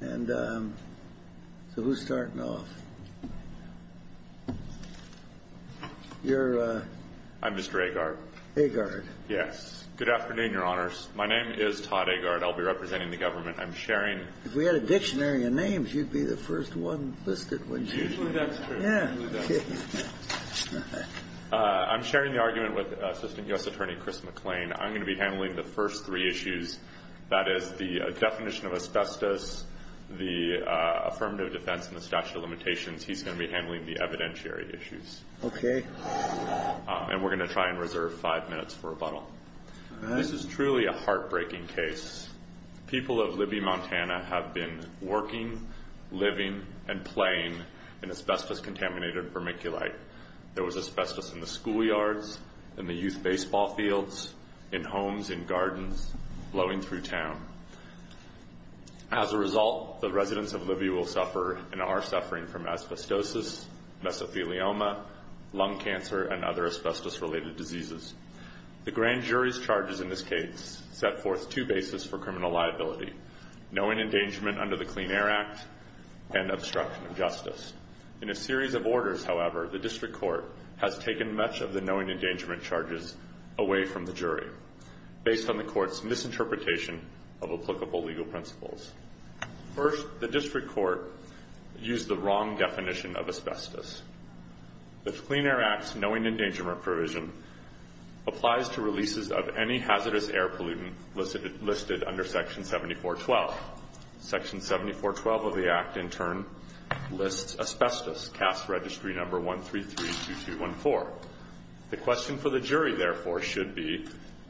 And so who's starting off? You're? I'm Mr. Agard. Agard? Yes. Good afternoon, Your Honors. My name is Todd Agard. I'll be representing the government. I'm sharing. If we had a dictionary of names, you'd be the first one listed, wouldn't you? Usually that's true. Yeah. I'm sharing the argument with Assistant U.S. Attorney Chris McLean. I'm going to be handling the first three issues, that is, the definition of asbestos, the affirmative defense, and the statute of limitations. He's going to be handling the evidentiary issues. Okay. And we're going to try and reserve five minutes for rebuttal. This is truly a heartbreaking case. People of Libby, Montana have been working, living, and playing in asbestos-contaminated vermiculite. There was asbestos in the schoolyards, in the youth baseball fields, in homes, in gardens, blowing through town. As a result, the residents of Libby will suffer and are suffering from asbestosis, mesothelioma, lung cancer, and other asbestos-related diseases. The grand jury's charges in this case set forth two bases for criminal liability, knowing endangerment under the Clean Air Act and obstruction of justice. In a series of orders, however, the district court has taken much of the knowing endangerment charges away from the jury. Based on the court's misinterpretation of applicable legal principles. First, the district court used the wrong definition of asbestos. The Clean Air Act's knowing endangerment provision applies to releases of any hazardous air pollutant listed under Section 7412. Section 7412 of the Act, in turn, lists asbestos, C.A.S.T. registry number 1332214. The question for the jury, therefore, should be,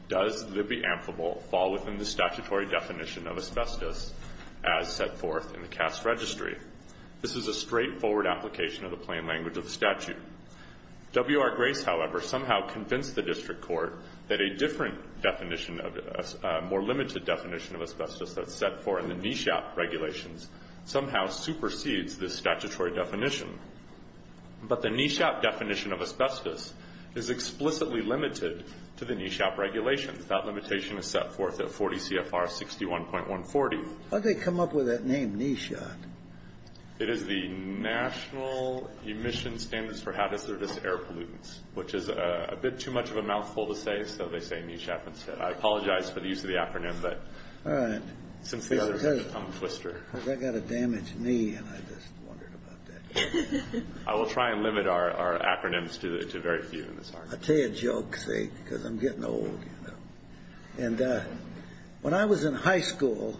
does Libby Amphibol fall within the statutory definition of asbestos as set forth in the C.A.S.T. registry? This is a straightforward application of the plain language of the statute. W.R. Grace, however, somehow convinced the district court that a different definition of it, a more limited definition of asbestos that's set forth in the NESHOP regulations somehow supersedes this statutory definition. But the NESHOP definition of asbestos is explicitly limited to the NESHOP regulations. That limitation is set forth at 40 CFR 61.140. Why'd they come up with that name, NESHOP? It is the National Emission Standards for Hazardous Air Pollutants, which is a bit too much of a mouthful to say. So they say NESHOP instead. I apologize for the use of the acronym. All right. I'm a twister. I got a damaged knee, and I just wondered about that. I will try and limit our acronyms to very few in this argument. I'll tell you a joke, see, because I'm getting old, you know. When I was in high school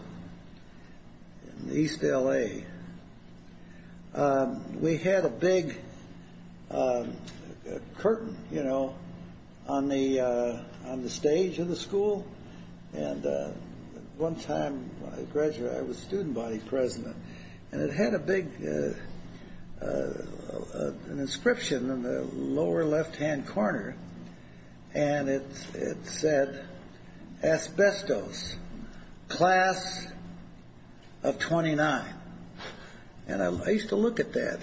in East L.A., we had a big curtain, you know, on the stage of the school. And one time when I graduated, I was student body president, and it had a big inscription in the lower left-hand corner. And it said, asbestos, class of 29. And I used to look at that,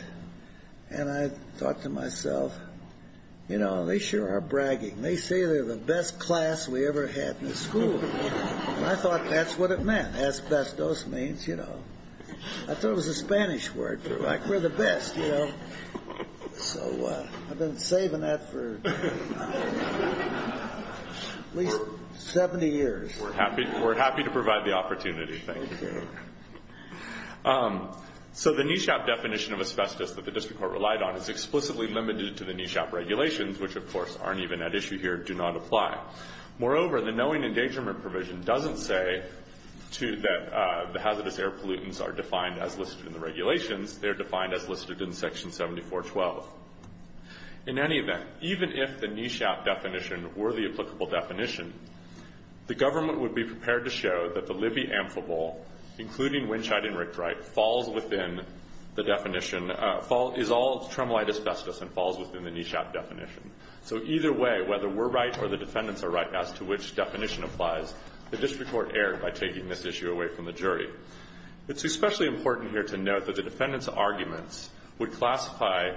and I thought to myself, you know, they sure are bragging. They say they're the best class we ever had in the school. And I thought that's what it meant. Asbestos means, you know. I thought it was a Spanish word for, like, we're the best, you know. So I've been saving that for at least 70 years. We're happy to provide the opportunity. Thank you. So the NESHAP definition of asbestos that the district court relied on is explicitly limited to the NESHAP regulations, which, of course, aren't even at issue here, do not apply. Moreover, the knowing endangerment provision doesn't say that the hazardous air pollutants are defined as listed in the regulations. They're defined as listed in Section 7412. In any event, even if the NESHAP definition were the applicable definition, the government would be prepared to show that the Libby amphibole, including Winshite and Rickdrite, falls within the definition, is all tremolite asbestos and falls within the NESHAP definition. So either way, whether we're right or the defendants are right as to which definition applies, the district court erred by taking this issue away from the jury. It's especially important here to note that the defendants' arguments would classify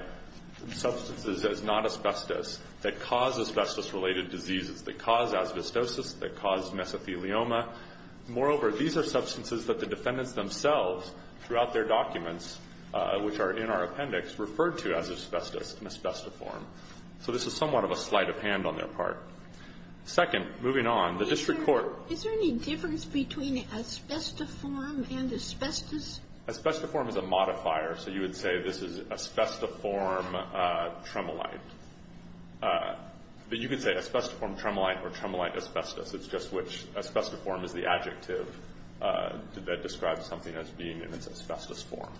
substances as not asbestos that cause asbestos-related diseases, that cause asbestosis, that cause mesothelioma. Moreover, these are substances that the defendants themselves throughout their documents, which are in our appendix, referred to as asbestos in asbestiform. So this is somewhat of a sleight of hand on their part. Second, moving on, the district court ---- Asbestiform and asbestos? Asbestiform is a modifier, so you would say this is asbestiform tremolite. But you could say asbestiform tremolite or tremolite asbestos. It's just which asbestiform is the adjective that describes something as being in its asbestos form.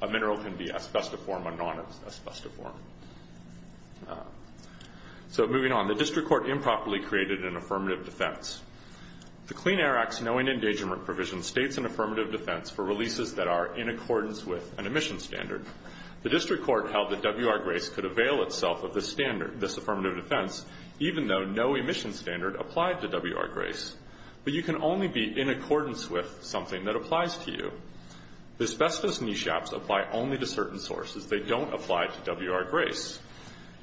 A mineral can be asbestiform or non-asbestiform. So moving on, the district court improperly created an affirmative defense. The Clean Air Act's knowing engagement provision states an affirmative defense for releases that are in accordance with an emission standard. The district court held that WR-GRACE could avail itself of this standard, this affirmative defense, even though no emission standard applied to WR-GRACE. But you can only be in accordance with something that applies to you. The asbestos NESHAPs apply only to certain sources. They don't apply to WR-GRACE.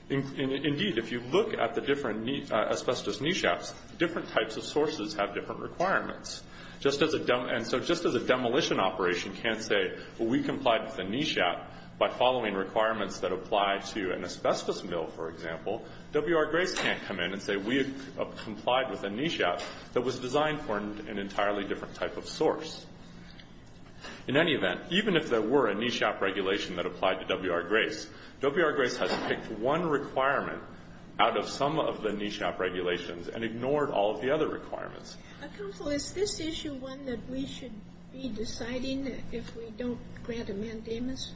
Indeed, if you look at the different asbestos NESHAPs, different types of sources have different requirements. And so just as a demolition operation can't say, well, we complied with a NESHAP by following requirements that apply to an asbestos mill, for example, WR-GRACE can't come in and say we complied with a NESHAP that was designed for an entirely different type of source. In any event, even if there were a NESHAP regulation that applied to WR-GRACE, WR-GRACE has picked one requirement out of some of the NESHAP regulations and ignored all of the other requirements. Sotomayor, is this issue one that we should be deciding if we don't grant a mandamus?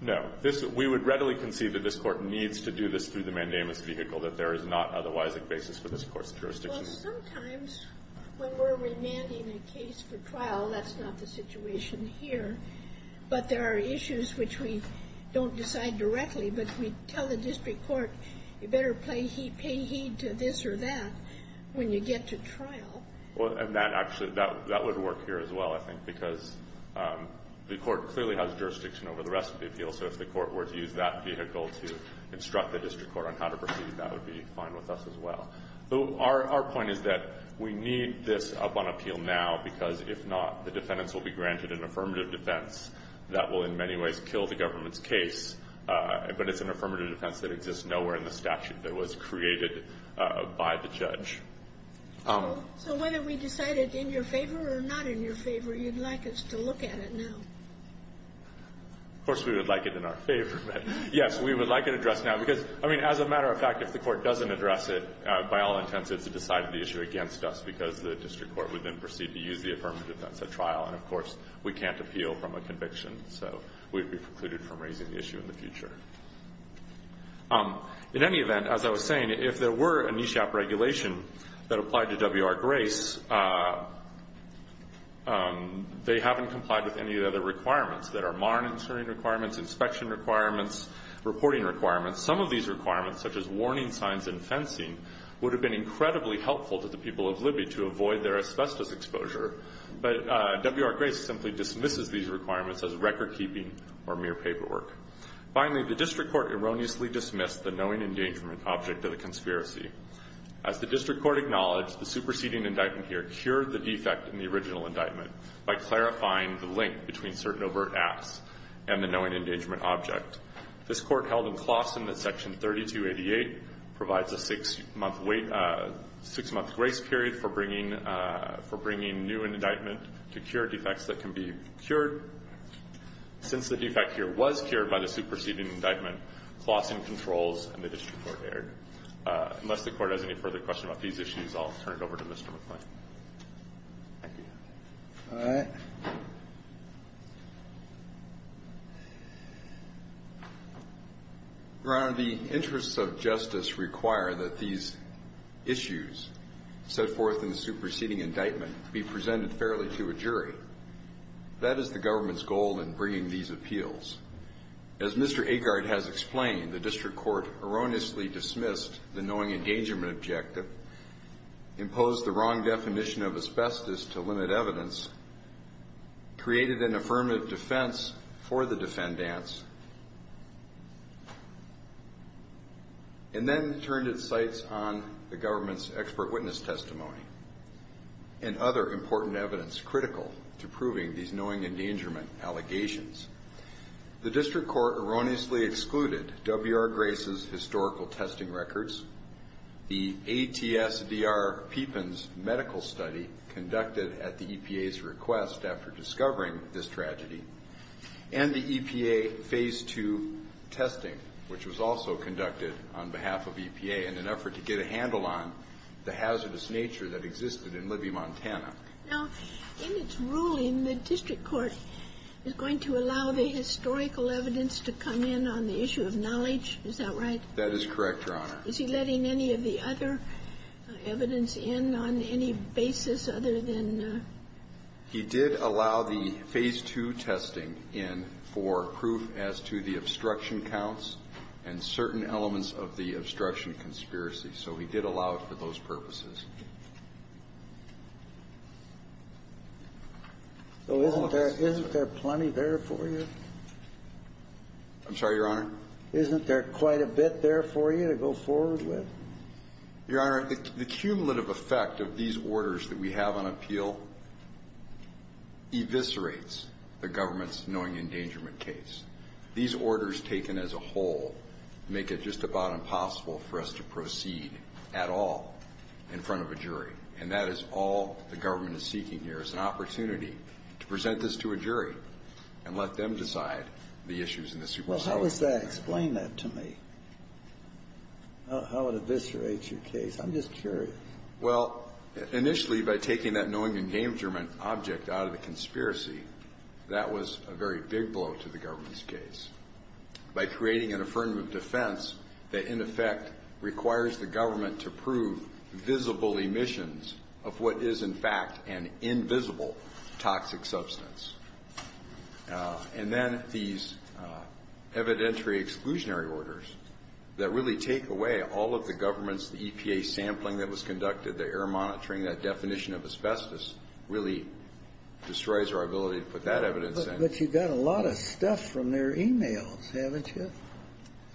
No. We would readily concede that this Court needs to do this through the mandamus vehicle, that there is not otherwise a basis for this Court's jurisdiction. Well, sometimes when we're remanding a case for trial, that's not the situation here, but there are issues which we don't decide directly, but we tell the district court you better pay heed to this or that when you get to trial. Well, and that actually would work here as well, I think, because the Court clearly has jurisdiction over the rest of the appeal. So if the Court were to use that vehicle to instruct the district court on how to proceed, that would be fine with us as well. So our point is that we need this up on appeal now, because if not, the defendants will be granted an affirmative defense that will in many ways kill the government's case, but it's an affirmative defense that exists nowhere in the statute that was created by the judge. So whether we decide it in your favor or not in your favor, you'd like us to look at it now? Of course we would like it in our favor. Yes, we would like it addressed now, because, I mean, as a matter of fact, if the Court doesn't address it by all intents, it's a decided issue against us, because the district court would then proceed to use the affirmative defense at trial, and, of course, we can't appeal from a conviction, so we'd be precluded from raising the issue in the future. In any event, as I was saying, if there were a NESHAP regulation that applied to W.R. Grace, they haven't complied with any of the other requirements that are MARN insuring requirements, inspection requirements, reporting requirements. Some of these requirements, such as warning signs and fencing, would have been incredibly helpful to the people of Libby to avoid their asbestos exposure, but W.R. Grace simply dismisses these requirements as recordkeeping or mere paperwork. Finally, the district court erroneously dismissed the knowing engagement object of the conspiracy. As the district court acknowledged, the superseding indictment here cured the defect in the original indictment by clarifying the link between certain overt acts and the knowing engagement object. This Court held in Clausen that Section 3288 provides a six-month grace period for bringing new indictment to cure defects that can be cured. Since the defect here was cured by the superseding indictment, Clausen controls, and the district court erred. Unless the Court has any further questions about these issues, I'll turn it over to Mr. McClain. Thank you. All right. Your Honor, the interests of justice require that these issues set forth in the superseding indictment be presented fairly to a jury. That is the government's goal in bringing these appeals. As Mr. Agard has explained, the district court erroneously dismissed the knowing engagement objective, imposed the wrong definition of asbestos to limit evidence, created an affirmative defense for the defendants, and then turned its sights on the government's expert witness testimony and other important evidence critical to proving these knowing endangerment allegations. The district court erroneously excluded W.R. Grace's historical testing records, the ATSDR Pippin's medical study conducted at the EPA's request after discovering this tragedy, and the EPA Phase II testing, which was also conducted on behalf of EPA in an effort to get a handle on the hazardous nature that existed in Libby, Montana. Now, in its ruling, the district court is going to allow the historical evidence to come in on the issue of knowledge. Is that right? That is correct, Your Honor. Is he letting any of the other evidence in on any basis other than the... He did allow the Phase II testing in for proof as to the obstruction counts and certain elements of the obstruction conspiracy. So he did allow it for those purposes. So isn't there plenty there for you? I'm sorry, Your Honor? Isn't there quite a bit there for you to go forward with? Your Honor, the cumulative effect of these orders that we have on appeal eviscerates the government's knowing endangerment case. These orders taken as a whole make it just about impossible for us to proceed at all in front of a jury. And that is all the government is seeking here is an opportunity to present this to a jury and let them decide the issues in the supersedition. Well, how does that explain that to me? How it eviscerates your case? I'm just curious. Well, initially, by taking that knowing endangerment object out of the conspiracy, that was a very big blow to the government's case. By creating an affirmative defense that, in effect, requires the government to prove visible emissions of what is, in fact, an invisible toxic substance. And then these evidentiary exclusionary orders that really take away all of the government's EPA sampling that was conducted, the air monitoring, that definition of asbestos, really destroys our ability to put that evidence in. But you got a lot of stuff from their e-mails, haven't you?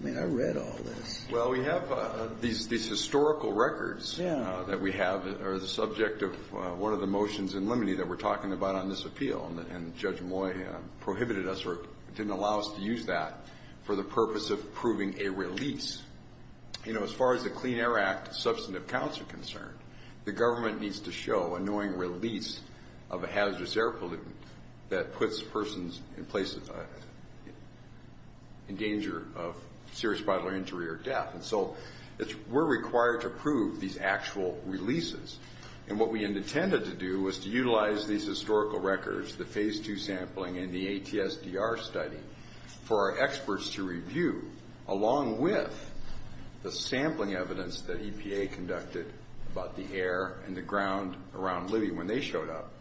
I mean, I read all this. Well, we have these historical records that we have that are the subject of one of the motions in limine that we're talking about on this appeal, and Judge Moye prohibited us or didn't allow us to use that for the purpose of proving a release. You know, as far as the Clean Air Act substantive counts are concerned, the government needs to show a knowing release of a hazardous air pollutant that puts persons in danger of serious bodily injury or death. And so we're required to prove these actual releases. And what we intended to do was to utilize these historical records, the phase two sampling and the ATSDR study, for our experts to review along with the sampling evidence that EPA conducted about the air and the ground around Libby when they showed up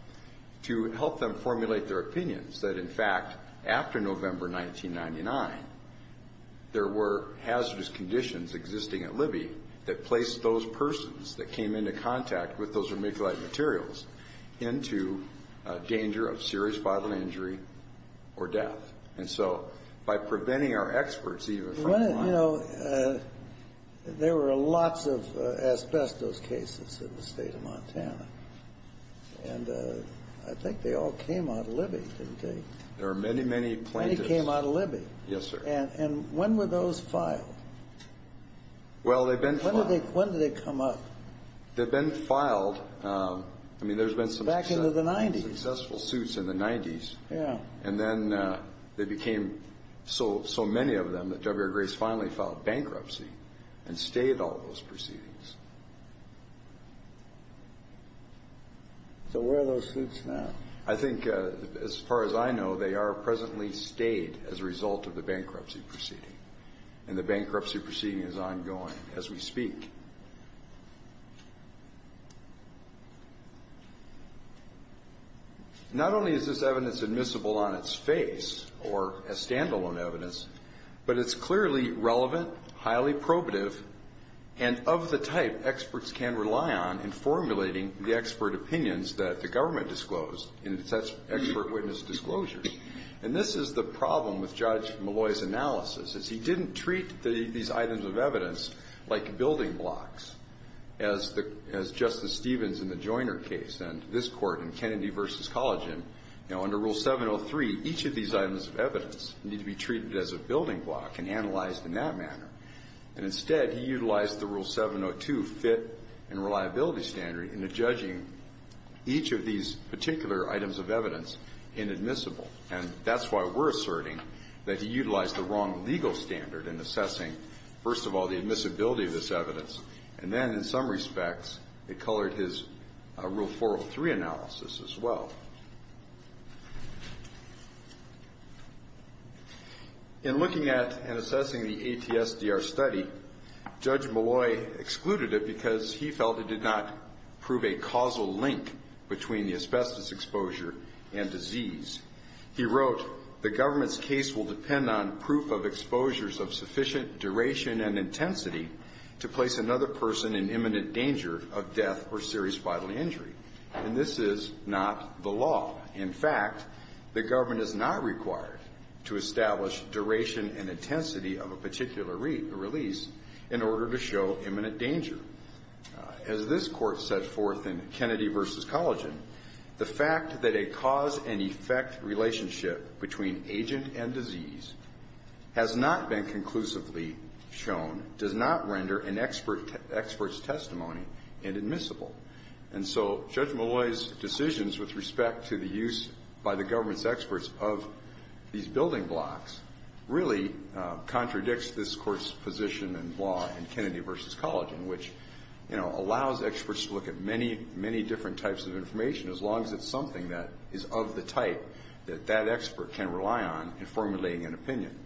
to help them formulate their opinions that, in fact, after November 1999, there were hazardous conditions existing at Libby that placed those persons that came into contact with those vermiculite materials into danger of serious bodily injury or death. And so by preventing our experts even from… You know, there were lots of asbestos cases in the state of Montana, and I think they all came out of Libby, didn't they? There were many, many plaintiffs. Many came out of Libby. Yes, sir. And when were those filed? Well, they've been filed. When did they come up? They've been filed. I mean, there's been some successful suits in the 90s, and then they became so many of them that W.R. Grace finally filed bankruptcy and stayed all those proceedings. So where are those suits now? I think, as far as I know, they are presently stayed as a result of the bankruptcy proceeding, and the bankruptcy proceeding is ongoing. As we speak. Not only is this evidence admissible on its face or as standalone evidence, but it's clearly relevant, highly probative, and of the type experts can rely on in formulating the expert opinions that the government disclosed in such expert witness disclosures. And this is the problem with Judge Malloy's analysis, is he didn't treat these items of evidence like building blocks, as Justice Stevens in the Joyner case, and this Court in Kennedy v. Collagen. Now, under Rule 703, each of these items of evidence need to be treated as a building block and analyzed in that manner. And instead, he utilized the Rule 702 fit and reliability standard in judging each of these particular items of evidence inadmissible. And that's why we're asserting that he utilized the wrong legal standard in assessing, first of all, the admissibility of this evidence, and then, in some respects, it colored his Rule 403 analysis as well. In looking at and assessing the ATSDR study, Judge Malloy excluded it because he felt it did not prove a causal link between the asbestos exposure and disease. He wrote, The government's case will depend on proof of exposures of sufficient duration and intensity to place another person in imminent danger of death or serious bodily injury. And this is not the law. In fact, the government is not required to establish duration and intensity of a particular release in order to show imminent danger. As this Court set forth in Kennedy v. Collagen, the fact that a cause and effect relationship between agent and disease has not been conclusively shown does not render an expert's testimony inadmissible. And so Judge Malloy's decisions with respect to the use by the government's experts of these building blocks really contradicts this Court's position in law in Kennedy v. Collagen, which, you know, allows experts to look at many, many different types of information as long as it's something that is of the type that that expert can rely on in formulating an opinion.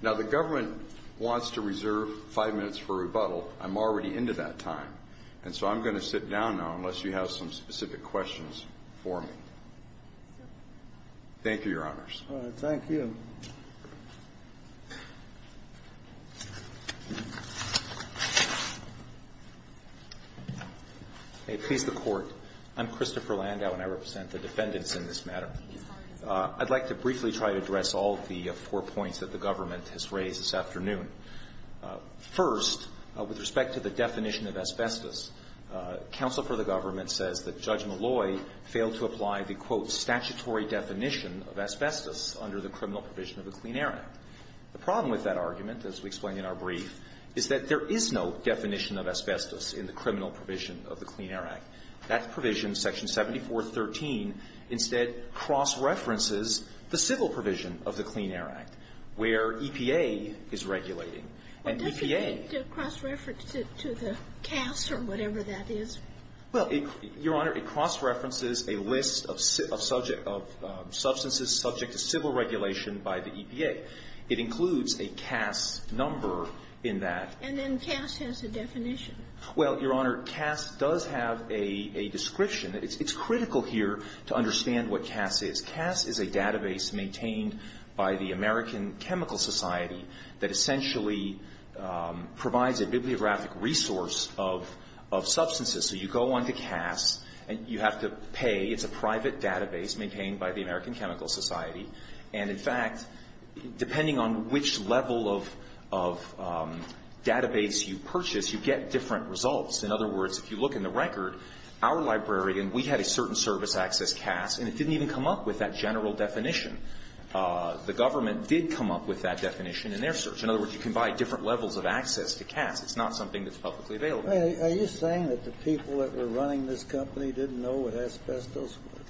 Now, the government wants to reserve five minutes for rebuttal. I'm already into that time. And so I'm going to sit down now unless you have some specific questions for me. Thank you, Your Honors. Thank you. Please, the Court. I'm Christopher Landau, and I represent the defendants in this matter. I'd like to briefly try to address all of the four points that the government has raised this afternoon. First, with respect to the definition of asbestos, counsel for the government says that Judge Malloy failed to apply the, quote, statutory definition of asbestos under the criminal provision of the Clean Air Act. The problem with that argument, as we explain in our brief, is that there is no definition of asbestos in the criminal provision of the Clean Air Act. That provision, Section 7413, instead cross-references the civil provision of the Clean Air Act, where EPA is regulating. And EPA ---- to the CAS or whatever that is? Well, Your Honor, it cross-references a list of subject of substances subject to civil regulation by the EPA. It includes a CAS number in that. And then CAS has a definition. Well, Your Honor, CAS does have a description. It's critical here to understand what CAS is. CAS is a database maintained by the American Chemical Society that essentially provides a bibliographic resource of substances. So you go onto CAS and you have to pay. It's a private database maintained by the American Chemical Society. And, in fact, depending on which level of database you purchase, you get different results. In other words, if you look in the record, our library, and we had a certain service access CAS, and it didn't even come up with that general definition. The government did come up with that definition in their search. In other words, you can buy different levels of access to CAS. It's not something that's publicly available. Are you saying that the people that were running this company didn't know what asbestos was?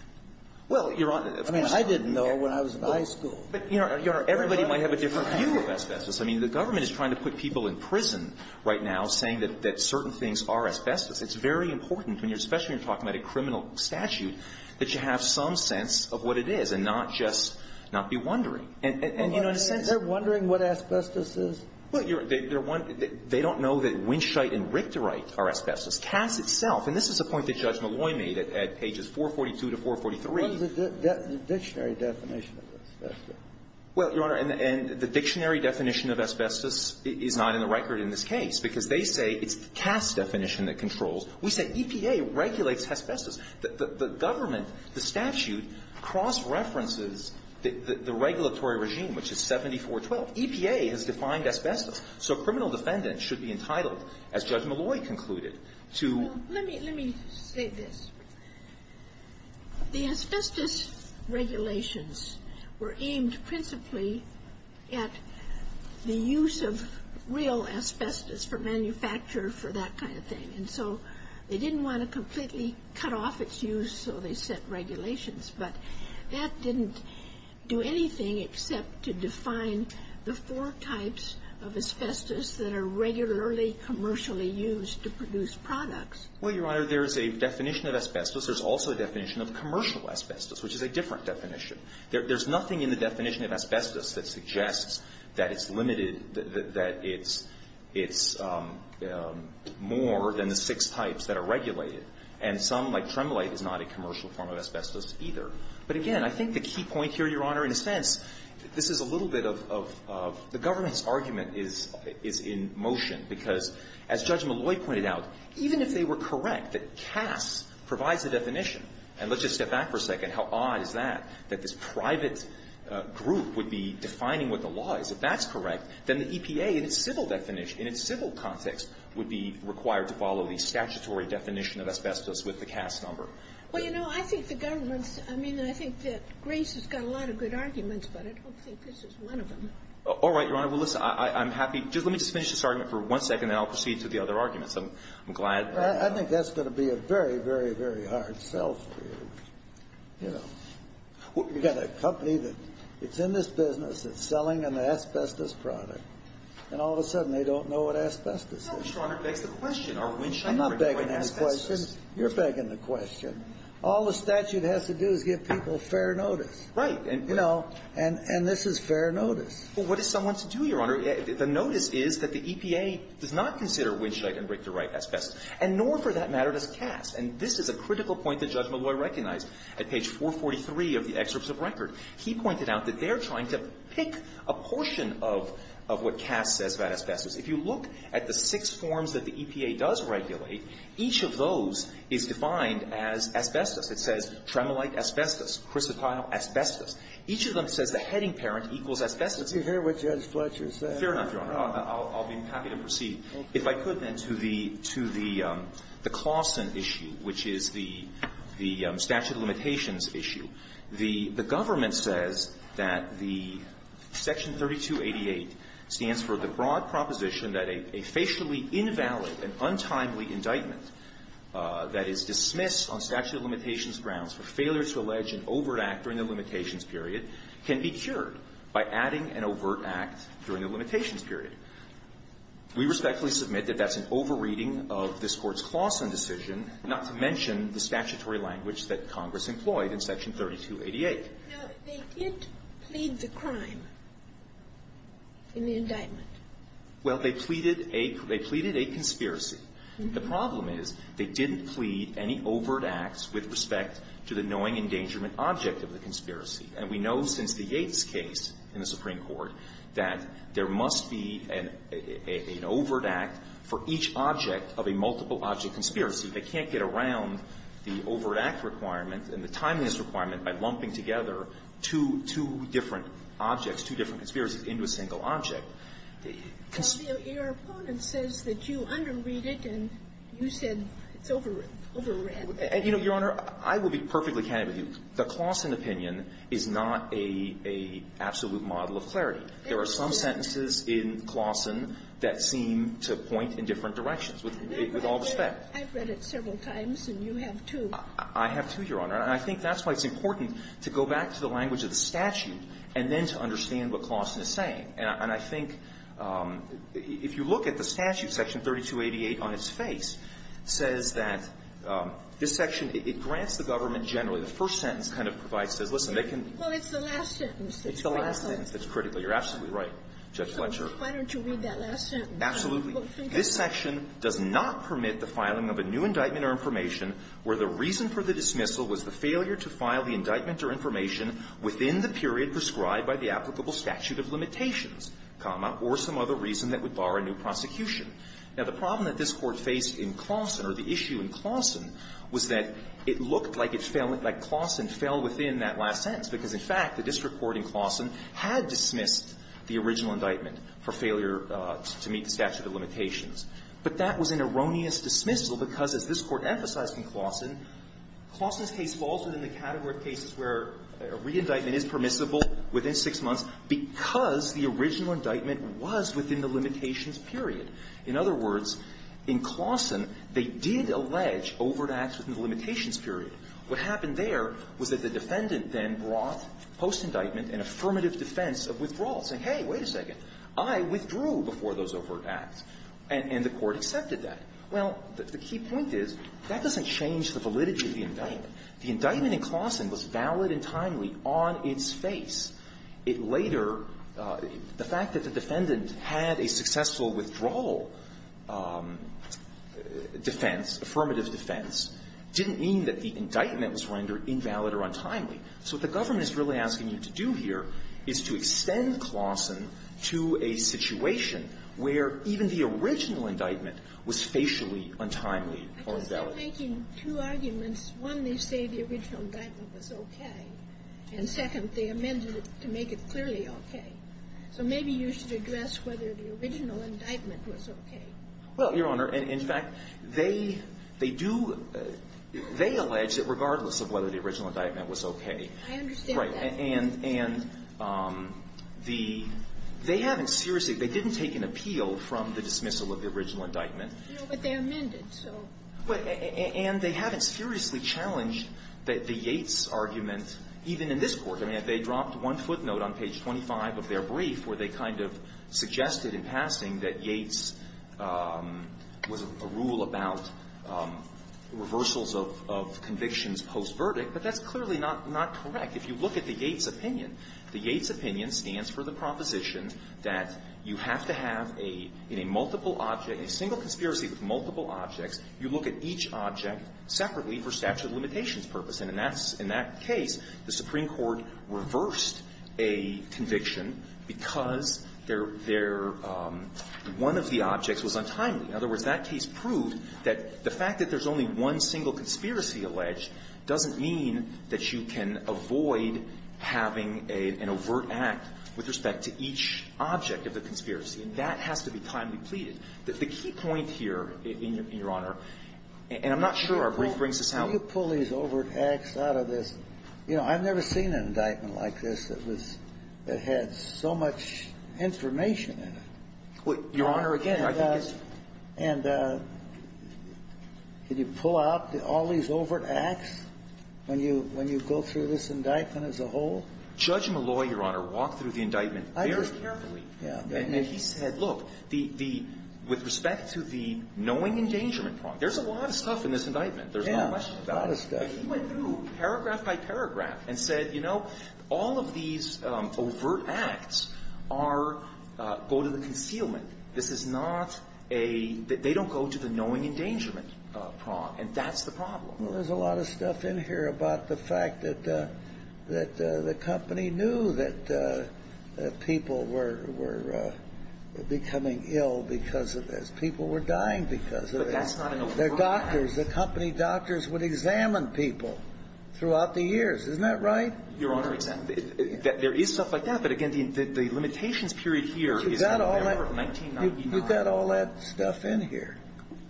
Well, Your Honor, of course not. I mean, I didn't know when I was in high school. But, Your Honor, everybody might have a different view of asbestos. I mean, the government is trying to put people in prison right now saying that certain things are asbestos. It's very important, especially when you're talking about a criminal statute, that you have some sense of what it is and not just not be wondering. And you know what I'm saying? They're wondering what asbestos is? Well, Your Honor, they don't know that winchite and rictorite are asbestos. CAS itself, and this is a point that Judge Malloy made at pages 442 to 443. What is the dictionary definition of asbestos? Well, Your Honor, and the dictionary definition of asbestos is not in the record in this case because they say it's the CAS definition that controls. We say EPA regulates asbestos. The government, the statute, cross-references the regulatory regime, which is 7412. EPA has defined asbestos. So criminal defendants should be entitled, as Judge Malloy concluded, to ---- Well, let me say this. The asbestos regulations were aimed principally at the use of They didn't want to completely cut off its use, so they set regulations. But that didn't do anything except to define the four types of asbestos that are regularly commercially used to produce products. Well, Your Honor, there's a definition of asbestos. There's also a definition of commercial asbestos, which is a different definition. There's nothing in the definition of asbestos that suggests that it's limited, that it's more than the six types that are regulated. And some, like Tremolite, is not a commercial form of asbestos either. But again, I think the key point here, Your Honor, in a sense, this is a little bit of the government's argument is in motion, because as Judge Malloy pointed out, even if they were correct that CAS provides the definition, and let's just step back for a second, how odd is that, that this private group would be defining what the law is? If that's correct, then the EPA, in its civil definition, in its civil context, would be required to follow the statutory definition of asbestos with the CAS number. Well, you know, I think the government's – I mean, I think that Grace has got a lot of good arguments, but I don't think this is one of them. All right, Your Honor. Well, listen, I'm happy – let me just finish this argument for one second, and then I'll proceed to the other arguments. I'm glad – I think that's going to be a very, very, very hard sell for you. You know, you've got a company that – it's in this business, it's selling an asbestos product, and all of a sudden they don't know what asbestos is. Well, Your Honor, it begs the question. Are windshield – I'm not begging the question. You're begging the question. All the statute has to do is give people fair notice. Right. And – You know, and this is fair notice. Well, what is someone to do, Your Honor? The notice is that the EPA does not consider windshield and brake-to-right asbestos. And nor, for that matter, does Cass. And this is a critical point that Judge Malloy recognized at page 443 of the Excerpts of Record. He pointed out that they're trying to pick a portion of what Cass says about asbestos. If you look at the six forms that the EPA does regulate, each of those is defined as asbestos. It says tremolite asbestos, chrysotile asbestos. Each of them says the heading parent equals asbestos. Is that what Judge Fletcher said? Fair enough, Your Honor. I'll be happy to proceed, if I could, then, to the Clawson issue, which is the statute of limitations issue. The government says that the Section 3288 stands for the broad proposition that a facially invalid and untimely indictment that is dismissed on statute of limitations grounds for failure to allege an overt act during the limitations period can be cured by adding an overt act during the limitations period. We respectfully submit that that's an over-reading of this Court's Clawson decision, not to mention the statutory language that Congress employed in Section 3288. Now, they did plead the crime in the indictment. Well, they pleaded a conspiracy. The problem is they didn't plead any overt acts with respect to the knowing endangerment object of the conspiracy. And we know since the Yates case in the Supreme Court that there must be an overt act for each object of a multiple object conspiracy. They can't get around the overt act requirement and the timeliness requirement by lumping together two different objects, two different conspiracies into a single object. Your opponent says that you under-read it, and you said it's over-read. You know, Your Honor, I will be perfectly candid with you. The Clawson opinion is not an absolute model of clarity. There are some sentences in Clawson that seem to point in different directions, with all respect. I've read it several times, and you have, too. I have, too, Your Honor. And I think that's why it's important to go back to the language of the statute and then to understand what Clawson is saying. And I think if you look at the statute, Section 3288 on its face says that this section, it grants the government generally, the first sentence kind of provides this. Listen, they can be the last sentence that's critical. You're absolutely right, Judge Fletcher. Why don't you read that last sentence? Absolutely. This section does not permit the filing of a new indictment or information where the reason for the dismissal was the failure to file the indictment or information within the period prescribed by the applicable statute of limitations, comma, or some other reason that would bar a new prosecution. Now, the problem that this Court faced in Clawson or the issue in Clawson was that it looked like it fell – like Clawson fell within that last sentence, because, in fact, the district court in Clawson had dismissed the original indictment for failure to meet the statute of limitations. But that was an erroneous dismissal because, as this Court emphasized in Clawson, Clawson's case falls within the category of cases where a re-indictment is permissible within six months because the original indictment was within the limitations period. In other words, in Clawson, they did allege overt acts within the limitations period. What happened there was that the defendant then brought, post-indictment, an affirmative defense of withdrawal, saying, hey, wait a second, I withdrew before those overt acts, and the Court accepted that. Well, the key point is that doesn't change the validity of the indictment. The indictment in Clawson was valid and timely on its face. It later – the fact that the defendant had a successful withdrawal defense, affirmative defense, didn't mean that the indictment was rendered invalid or untimely. So what the government is really asking you to do here is to extend Clawson to a situation where even the original indictment was facially untimely or invalid. Because they're making two arguments. One, they say the original indictment was okay. And second, they amended it to make it clearly okay. So maybe you should address whether the original indictment was okay. Well, Your Honor, in fact, they do – they allege that regardless of whether the original indictment was okay. I understand that. Right. And the – they haven't seriously – they didn't take an appeal from the dismissal of the original indictment. But they amended, so. And they haven't seriously challenged the Yates argument, even in this Court. I mean, they dropped one footnote on page 25 of their brief where they kind of suggested in passing that Yates was a rule about reversals of convictions post-verdict. But that's clearly not correct. If you look at the Yates opinion, the Yates opinion stands for the proposition that you have to have a – in a multiple object, a single conspiracy with multiple objects, you look at each object separately for statute of limitations purpose. And in that case, the Supreme Court reversed a conviction because their – their – one of the objects was untimely. In other words, that case proved that the fact that there's only one single conspiracy alleged doesn't mean that you can avoid having an overt act with respect to each object of the conspiracy, and that has to be timely pleaded. The key point here, Your Honor, and I'm not sure our brief brings this out. Can you pull these overt acts out of this? You know, I've never seen an indictment like this that was – that had so much information in it. Well, Your Honor, again, I think it's – And can you pull out all these overt acts when you – when you go through this indictment as a whole? Judge Malloy, Your Honor, walked through the indictment very carefully. And he said, look, the – the – with respect to the knowing endangerment problem, there's a lot of stuff in this indictment. There's no question about it. Yeah, a lot of stuff. But he went through paragraph by paragraph and said, you know, all of these overt acts are – go to the concealment. This is not a – they don't go to the knowing endangerment problem. And that's the problem. Well, there's a lot of stuff in here about the fact that – that the company knew that people were – were becoming ill because of this. People were dying because of this. But that's not an overt act. They're doctors. The company doctors would examine people throughout the years. Isn't that right? Your Honor, there is stuff like that. But, again, the – the limitations period here is – Was that all that stuff in here?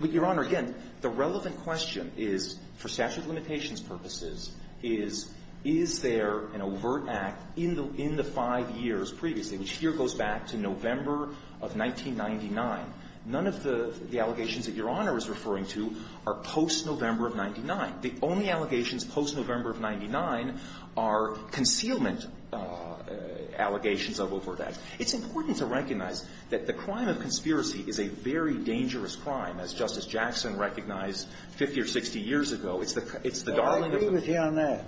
Well, Your Honor, again, the relevant question is, for statute of limitations purposes, is, is there an overt act in the – in the five years previously, which here goes back to November of 1999. None of the – the allegations that Your Honor is referring to are post-November of 99. The only allegations post-November of 99 are concealment allegations of overt acts. It's important to recognize that the crime of conspiracy is a very dangerous crime, as Justice Jackson recognized 50 or 60 years ago. It's the – it's the darling of the – Well, I agree with you on that.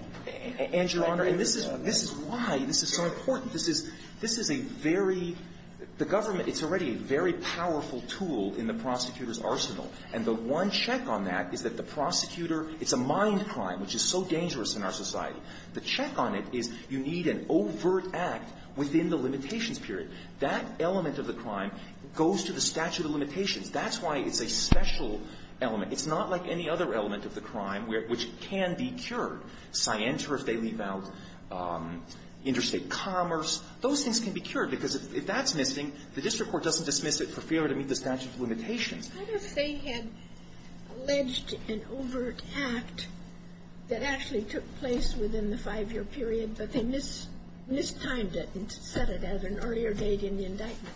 And, Your Honor, and this is – this is why this is so important. This is – this is a very – the government – it's already a very powerful tool in the prosecutor's arsenal. And the one check on that is that the prosecutor – it's a mind crime, which is so dangerous in our society. The check on it is you need an overt act within the limitations period. That element of the crime goes to the statute of limitations. That's why it's a special element. It's not like any other element of the crime, which can be cured. Scienter, if they leave out interstate commerce, those things can be cured, because if that's missing, the district court doesn't dismiss it for failure to meet the statute of limitations. What if they had alleged an overt act that actually took place within the five-year period, but they mistimed it and set it as an earlier date in the indictment?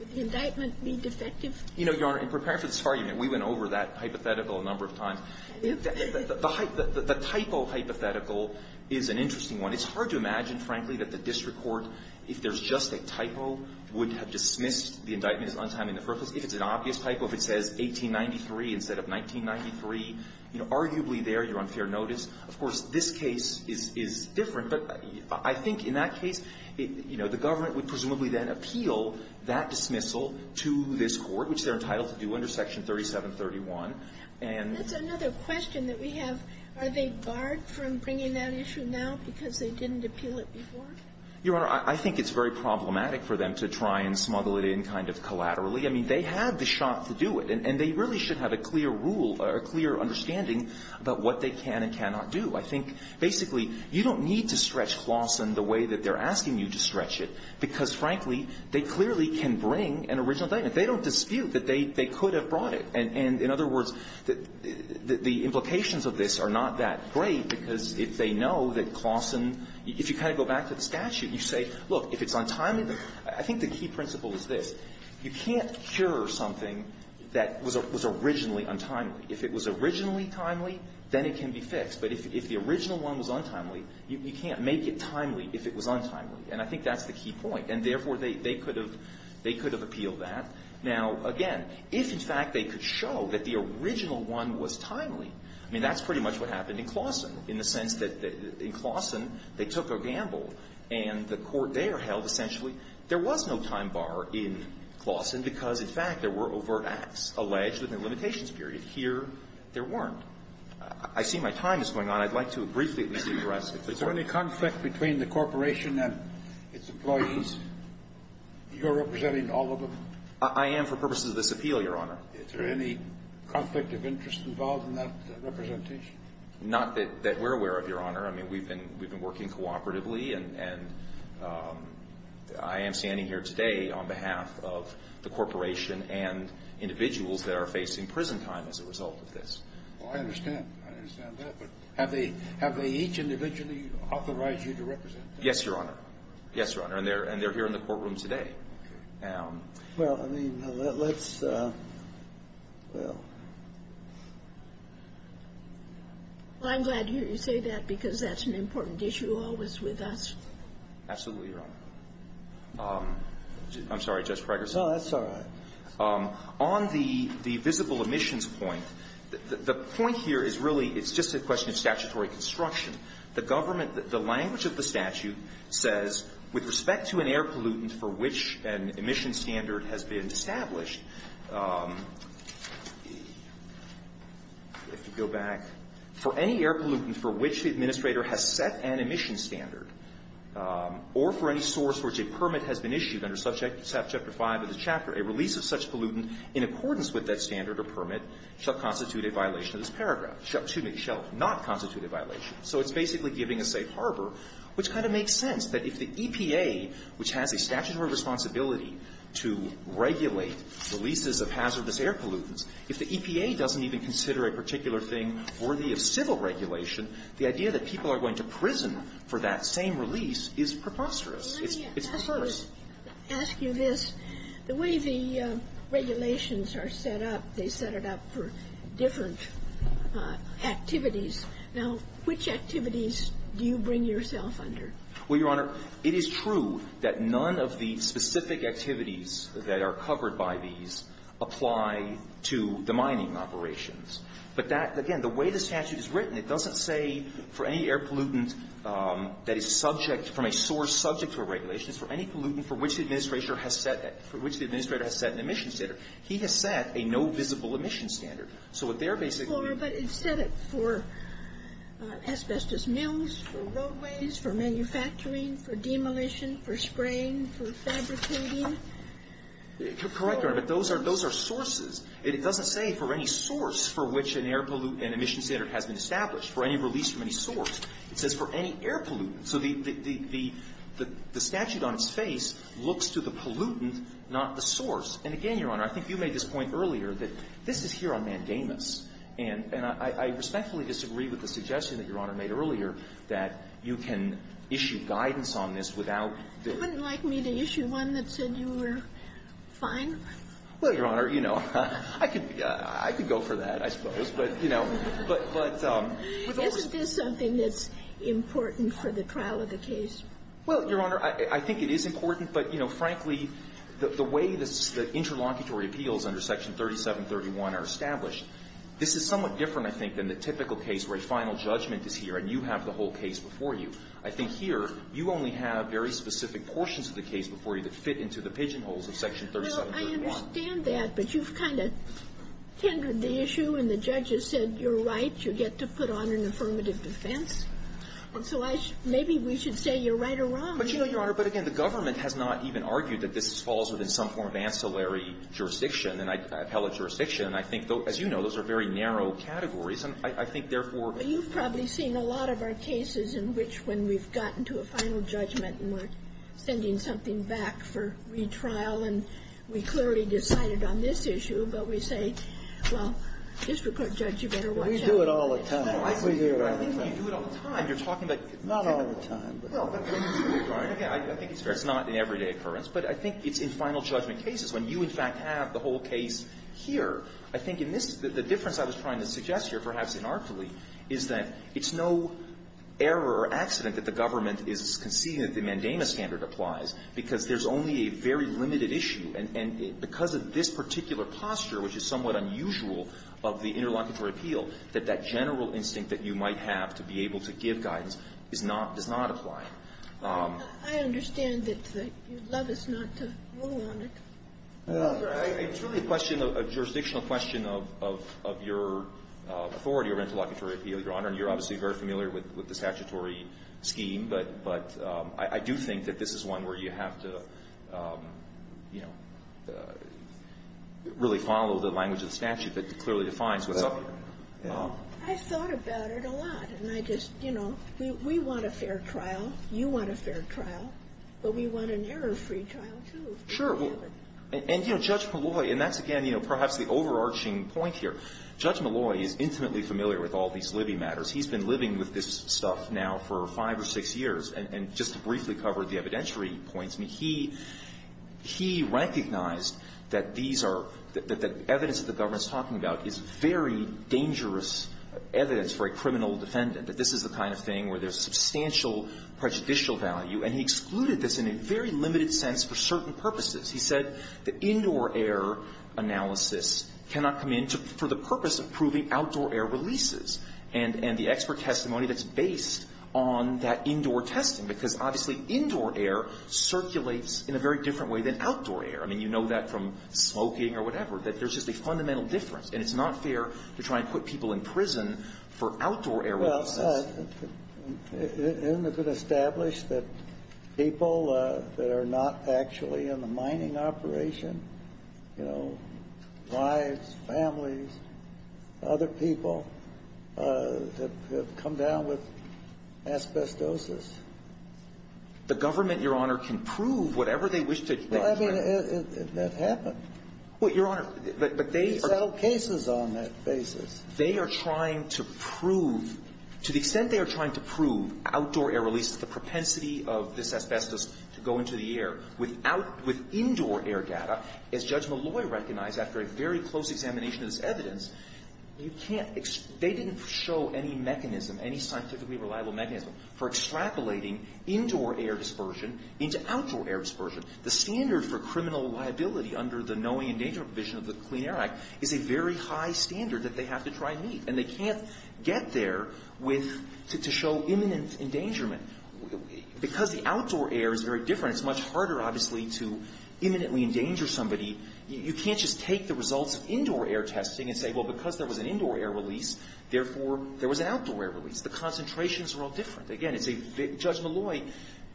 Would the indictment be defective? You know, Your Honor, in preparing for this argument, we went over that hypothetical a number of times. The – the – the typo hypothetical is an interesting one. It's hard to imagine, frankly, that the district court, if there's just a typo, would have dismissed the indictment as untimely in the first place. If it's an obvious typo, if it says 1893 instead of 1993, you know, arguably there you're on fair notice. Of course, this case is – is different, but I think in that case, you know, the government would presumably then appeal that dismissal to this Court, which they're entitled to do under Section 3731. And — That's another question that we have. Are they barred from bringing that issue now because they didn't appeal it before? Your Honor, I think it's very problematic for them to try and smuggle it in kind of collaterally. I mean, they had the shot to do it, and they really should have a clear rule or a clear understanding about what they can and cannot do. I think basically you don't need to stretch Claussen the way that they're asking you to stretch it because, frankly, they clearly can bring an original indictment. They don't dispute that they – they could have brought it. And in other words, the implications of this are not that great because if they know that Claussen – if you kind of go back to the statute, you say, look, if it's untimely, I think the key principle is this. You can't cure something that was originally untimely. If it was originally timely, then it can be fixed. But if the original one was untimely, you can't make it timely if it was untimely. And I think that's the key point. And therefore, they could have – they could have appealed that. Now, again, if, in fact, they could show that the original one was timely, I mean, that's pretty much what happened in Claussen, in the sense that in Claussen, they took a gamble, and the court there held essentially there was no time bar in Claussen because, in fact, there were overt acts alleged within the limitations period. Here, there weren't. I see my time is going on. I'd like to briefly at least address if there's any conflict between the corporation and its employees. You're representing all of them. I am for purposes of this appeal, Your Honor. Is there any conflict of interest involved in that representation? Not that we're aware of, Your Honor. I mean, we've been working cooperatively, and I am standing here today on behalf of the corporation and individuals that are facing prison time as a result of this. Well, I understand. I understand that. But have they each individually authorized you to represent them? Yes, Your Honor. Yes, Your Honor. And they're here in the courtroom today. Well, I mean, let's – well. Well, I'm glad to hear you say that because that's an important issue always with us. Absolutely, Your Honor. I'm sorry, Justice Krager. No, that's all right. On the visible emissions point, the point here is really it's just a question of statutory construction. The government – the language of the statute says, with respect to an air pollutant for which an emissions standard has been established, if you go back to the statute and you go back, for any air pollutant for which the administrator has set an emissions standard, or for any source for which a permit has been issued under Subject Chapter 5 of the chapter, a release of such pollutant in accordance with that standard or permit shall constitute a violation of this paragraph – excuse me, shall not constitute a violation. So it's basically giving a safe harbor, which kind of makes sense, that if the EPA, which has a statutory responsibility to regulate releases of hazardous air pollutants, if the EPA doesn't even consider a particular thing worthy of civil regulation, the idea that people are going to prison for that same release is preposterous. It's – it's perverse. Let me ask you this. The way the regulations are set up, they set it up for different activities. Now, which activities do you bring yourself under? Well, Your Honor, it is true that none of the specific activities that are covered by these apply to the mining operations. But that – again, the way the statute is written, it doesn't say for any air pollutant that is subject – from a source subject to a regulation, it's for any pollutant for which the administrator has set an emissions standard. He has set a no-visible emissions standard. So what they're basically doing is setting it for asbestos mills, for roadways, for manufacturing, for demolition, for spraying, for fabricating. Correct, Your Honor, but those are – those are sources. It doesn't say for any source for which an air pollutant – an emissions standard has been established, for any release from any source. It says for any air pollutant. So the – the statute on its face looks to the pollutant, not the source. And again, Your Honor, I think you made this point earlier that this is here on mandamus. And I respectfully disagree with the suggestion that Your Honor made earlier that you can issue guidance on this without the – You wouldn't like me to issue one that said you were fine? Well, Your Honor, you know, I could – I could go for that, I suppose. But, you know, but – but with all the – Isn't this something that's important for the trial of the case? Well, Your Honor, I think it is important, but, you know, frankly, the way the interlocutory appeals under Section 3731 are established, this is somewhat different, I think, than the typical case where a final judgment is here and you have the whole case before you. I think here, you only have very specific portions of the case before you that fit into the pigeonholes of Section 3731. Well, I understand that, but you've kind of tendered the issue and the judges said you're right, you get to put on an affirmative defense. And so I – maybe we should say you're right or wrong. But, you know, Your Honor, but again, the government has not even argued that this jurisdiction. And I think, as you know, those are very narrow categories. And I think, therefore – But you've probably seen a lot of our cases in which, when we've gotten to a final judgment and we're sending something back for retrial and we clearly decided on this issue, but we say, well, district court judge, you better watch out. We do it all the time. We do it all the time. I think you do it all the time. You're talking about – Not all the time. Well, but when you say retrial, I think it's – It's not an everyday occurrence. But I think it's in final judgment cases. When you, in fact, have the whole case here, I think in this – the difference I was trying to suggest here, perhaps inartfully, is that it's no error or accident that the government is conceding that the mandamus standard applies, because there's only a very limited issue. And because of this particular posture, which is somewhat unusual of the interlocutory appeal, that that general instinct that you might have to be able to give guidance is not – does not apply. I understand that you'd love us not to rule on it. I truly question a jurisdictional question of your authority or interlocutory appeal, Your Honor, and you're obviously very familiar with the statutory scheme, but I do think that this is one where you have to, you know, really follow the language of the statute that clearly defines what's up here. I've thought about it a lot, and I just – you know, we want a fair trial. You want a fair trial. But we want an error-free trial, too, if we can have it. Sure. And, you know, Judge Malloy – and that's, again, you know, perhaps the overarching point here. Judge Malloy is intimately familiar with all these Libby matters. He's been living with this stuff now for five or six years. And just to briefly cover the evidentiary points, he – he recognized that these are – that the evidence that the government's talking about is very dangerous evidence for a criminal defendant, that this is the kind of thing where there's prejudicial value. And he excluded this in a very limited sense for certain purposes. He said the indoor air analysis cannot come in to – for the purpose of proving outdoor air releases and – and the expert testimony that's based on that indoor testing. Because, obviously, indoor air circulates in a very different way than outdoor air. I mean, you know that from smoking or whatever, that there's just a fundamental difference, and it's not fair to try and put people in prison for outdoor air releases. But isn't it established that people that are not actually in the mining operation, you know, wives, families, other people, that have come down with asbestosis? The government, Your Honor, can prove whatever they wish to. Well, I mean, that happened. Well, Your Honor, but they are – They settled cases on that basis. They are trying to prove – to the extent they are trying to prove outdoor air releases, the propensity of this asbestos to go into the air without – with indoor air data, as Judge Malloy recognized after a very close examination of this evidence, you can't – they didn't show any mechanism, any scientifically reliable mechanism for extrapolating indoor air dispersion into outdoor air dispersion. The standard for criminal liability under the Knowing and Danger Provision of the And they can't get there with – to show imminent endangerment. Because the outdoor air is very different, it's much harder, obviously, to imminently endanger somebody. You can't just take the results of indoor air testing and say, well, because there was an indoor air release, therefore, there was an outdoor air release. The concentrations were all different. Again, it's a – Judge Malloy,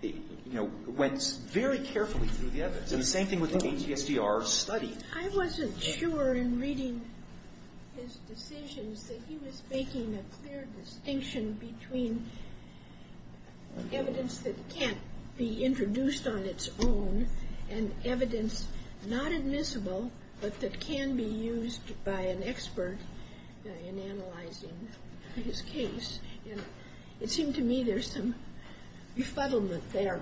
you know, went very carefully through the evidence. And the same thing with the ATSDR study. I wasn't sure in reading his decisions that he was making a clear distinction between evidence that can't be introduced on its own and evidence not admissible but that can be used by an expert in analyzing his case. And it seemed to me there's some refuttlement there.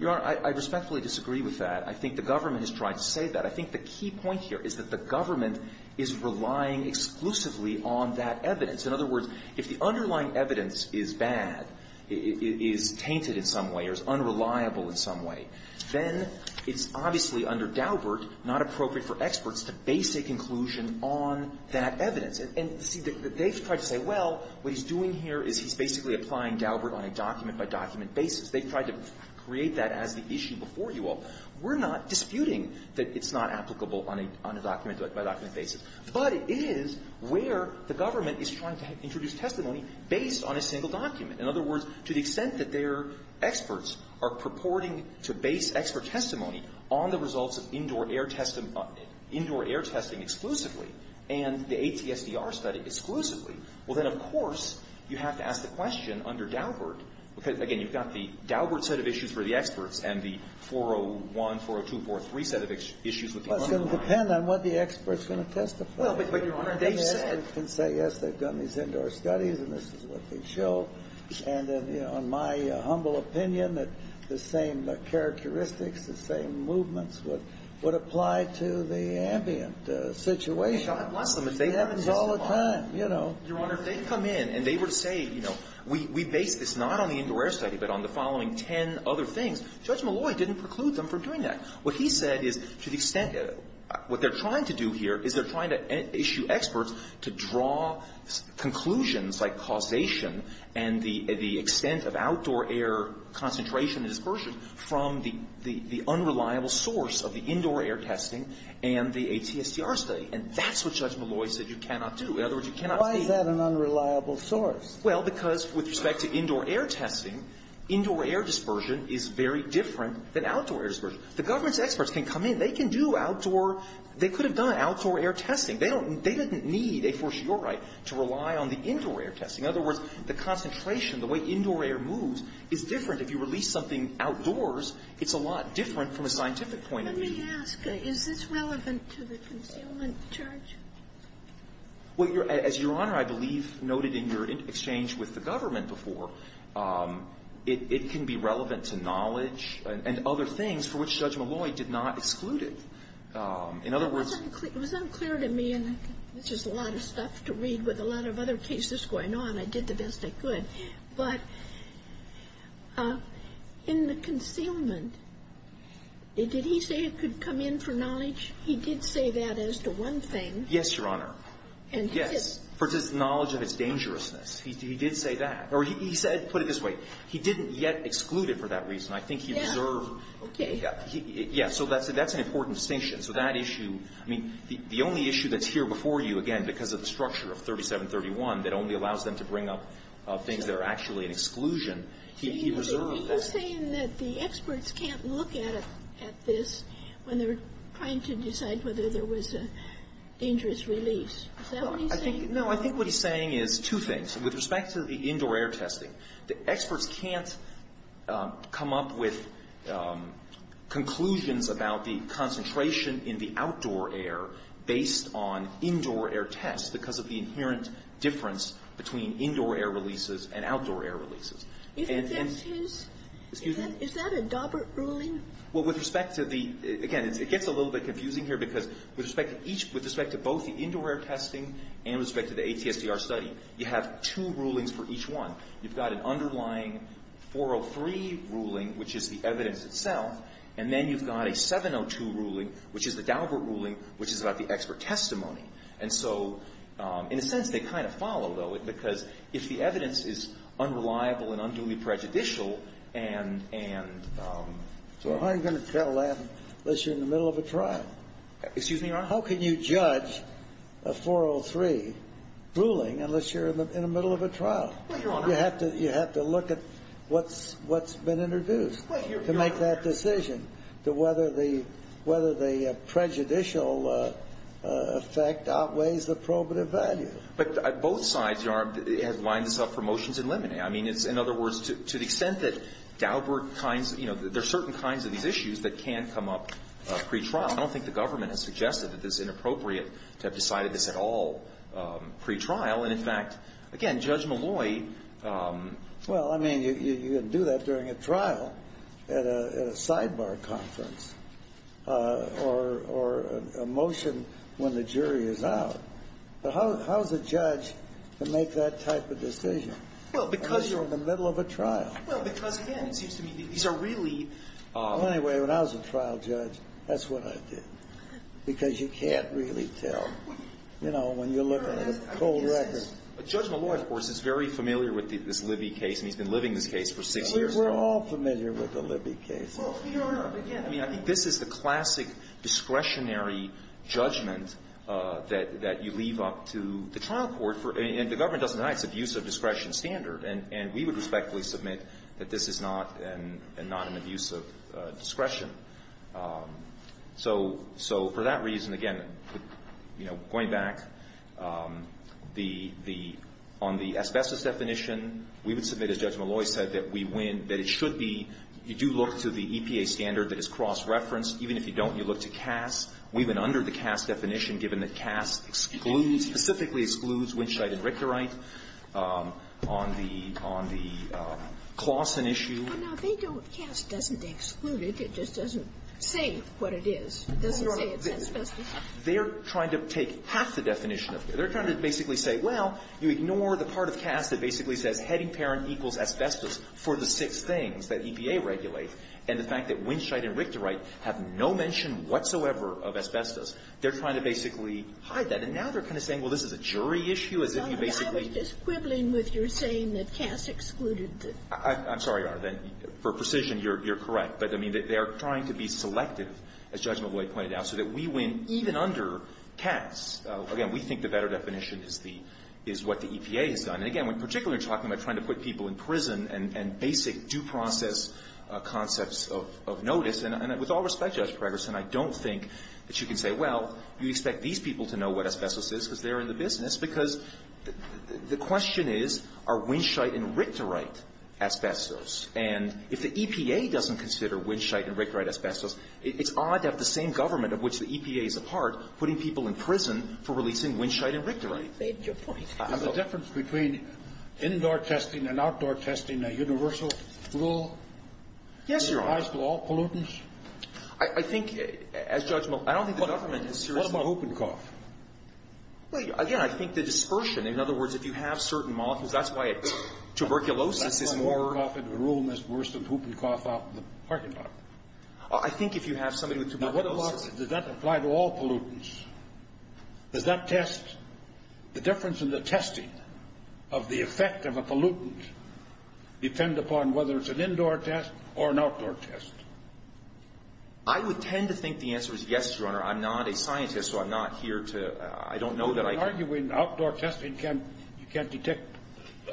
Your Honor, I respectfully disagree with that. I think the government has tried to say that. I think the key point here is that the government is relying exclusively on that evidence. In other words, if the underlying evidence is bad, is tainted in some way, or is unreliable in some way, then it's obviously under Daubert not appropriate for experts to base a conclusion on that evidence. And see, they've tried to say, well, what he's doing here is he's basically applying Daubert on a document-by-document basis. They've tried to create that as the issue before you all. We're not disputing that it's not applicable on a document-by-document basis. But it is where the government is trying to introduce testimony based on a single document. In other words, to the extent that their experts are purporting to base expert testimony on the results of indoor air testing exclusively and the ATSDR study exclusively, well, then, of course, you have to ask the question under Daubert. Because, again, you've got the Daubert set of issues for the experts and the 401, 402, 403 set of issues with the underlying evidence. It's going to depend on what the expert is going to testify. Well, but, Your Honor, they've said they've done these indoor studies and this is what they've shown. And in my humble opinion, the same characteristics, the same movements would apply to the ambient situation. God bless them if they were to say so. It happens all the time, you know. Your Honor, if they come in and they were to say, you know, we base this not on the indoor air study but on the following ten other things, Judge Malloy didn't preclude them from doing that. What he said is, to the extent of what they're trying to do here is they're trying to issue experts to draw conclusions like causation and the extent of outdoor air concentration and dispersion from the unreliable source of the indoor air testing and the ATSDR study. And that's what Judge Malloy said you cannot do. In other words, you cannot do that. You cannot do that in an unreliable source. Well, because with respect to indoor air testing, indoor air dispersion is very different than outdoor air dispersion. The government's experts can come in. They can do outdoor – they could have done outdoor air testing. They don't – they didn't need a fortiori to rely on the indoor air testing. In other words, the concentration, the way indoor air moves is different. If you release something outdoors, it's a lot different from a scientific point of view. Let me ask. Is this relevant to the concealment charge? Well, Your – as Your Honor, I believe, noted in your exchange with the government before, it can be relevant to knowledge and other things for which Judge Malloy did not exclude it. In other words – It was unclear to me, and this is a lot of stuff to read with a lot of other cases going on. I did the best I could. But in the concealment, did he say it could come in for knowledge? He did say that as to one thing. Yes, Your Honor. And he did – Yes. For his knowledge of its dangerousness. He did say that. Or he said – put it this way. He didn't yet exclude it for that reason. I think he reserved – Yeah, okay. Yeah. So that's an important distinction. So that issue – I mean, the only issue that's here before you, again, because of the structure of 3731 that only allows them to bring up things that are actually an exclusion, he reserved that. You're saying that the experts can't look at it – at this when they're trying to decide whether there was a dangerous release. Is that what he's saying? No. I think what he's saying is two things. With respect to the indoor air testing, the experts can't come up with conclusions about the concentration in the outdoor air based on indoor air tests because of the inherent difference between indoor air releases and outdoor air releases. And – If that's his – Excuse me? Is that a Dobbert ruling? Well, with respect to the – again, it gets a little bit confusing here because with respect to each – with respect to both the indoor air testing and with respect to the ATSDR study, you have two rulings for each one. You've got an underlying 403 ruling, which is the evidence itself, and then you've got a 702 ruling, which is the Dobbert ruling, which is about the expert testimony. And so in a sense, they kind of follow, though, because if the evidence is unreliable and unduly prejudicial, and – and so – Well, how are you going to tell that unless you're in the middle of a trial? Excuse me, Your Honor? How can you judge a 403 ruling unless you're in the middle of a trial? Well, Your Honor – You have to – you have to look at what's – what's been introduced to make that decision, to whether the – whether the prejudicial effect outweighs the probative value. But both sides, Your Honor, have lined this up for motions in limine. I mean, it's – in other words, to the extent that Dobbert kinds – you know, there are certain kinds of these issues that can come up pretrial. I don't think the government has suggested that it's inappropriate to have decided this at all pretrial. And, in fact, again, Judge Malloy – Well, I mean, you can do that during a trial at a – at a sidebar conference or – or a motion when the jury is out. But how – how is a judge to make that type of decision? Well, because – Unless you're in the middle of a trial. Well, because, again, it seems to me that these are really – Well, anyway, when I was a trial judge, that's what I did, because you can't really tell, you know, when you're looking at a cold record. But Judge Malloy, of course, is very familiar with this Libby case, and he's been living this case for six years. We're all familiar with the Libby case. Well, Your Honor, again – I mean, I think this is the classic discretionary judgment that – that you leave up to the trial court for – and the government doesn't deny its abuse of discretion standard. And – and we would respectfully submit that this is not an – not an abuse of discretion. So – so for that reason, again, you know, going back, the – the – on the asbestos definition, we would submit, as Judge Malloy said, that we win, that it should be – you do look to the EPA standard that is cross-referenced. Even if you don't, you look to CAS. We've been under the CAS definition, given that CAS excludes – specifically excludes Winscheid and Richterite on the – on the Claussen issue. Well, now, they don't – CAS doesn't exclude it. It just doesn't say what it is. It doesn't say it's asbestos. They're trying to take half the definition of it. They're trying to basically say, well, you ignore the part of CAS that basically says heading parent equals asbestos for the six things that EPA regulates, and the of asbestos. They're trying to basically hide that. And now they're kind of saying, well, this is a jury issue, as if you basically – I was just quibbling with your saying that CAS excluded the – I'm sorry, Your Honor. Then for precision, you're – you're correct. But, I mean, they are trying to be selective, as Judge Malloy pointed out, so that we win even under CAS. Again, we think the better definition is the – is what the EPA has done. And, again, when particularly talking about trying to put people in prison and – and that you can say, well, you expect these people to know what asbestos is because they're in the business. Because the question is, are Winshite and Rictorite asbestos? And if the EPA doesn't consider Winshite and Rictorite asbestos, it's odd to have the same government, of which the EPA is a part, putting people in prison for releasing Winshite and Rictorite. You made your point. And the difference between indoor testing and outdoor testing, a universal rule? Yes, Your Honor. Does that apply to all pollutants? I – I think, as Judge Malloy – I don't think the government is serious about whooping cough. Well, again, I think the dispersion, in other words, if you have certain molecules, that's why tuberculosis is more – I think whooping cough in a room is worse than whooping cough out in the parking lot. I think if you have somebody with tuberculosis – Now, what about – does that apply to all pollutants? Does that test – the difference in the testing of the effect of a pollutant depend upon whether it's an indoor test or an outdoor test? I would tend to think the answer is yes, Your Honor. I'm not a scientist, so I'm not here to – I don't know that I can – But you're arguing outdoor testing can't – you can't detect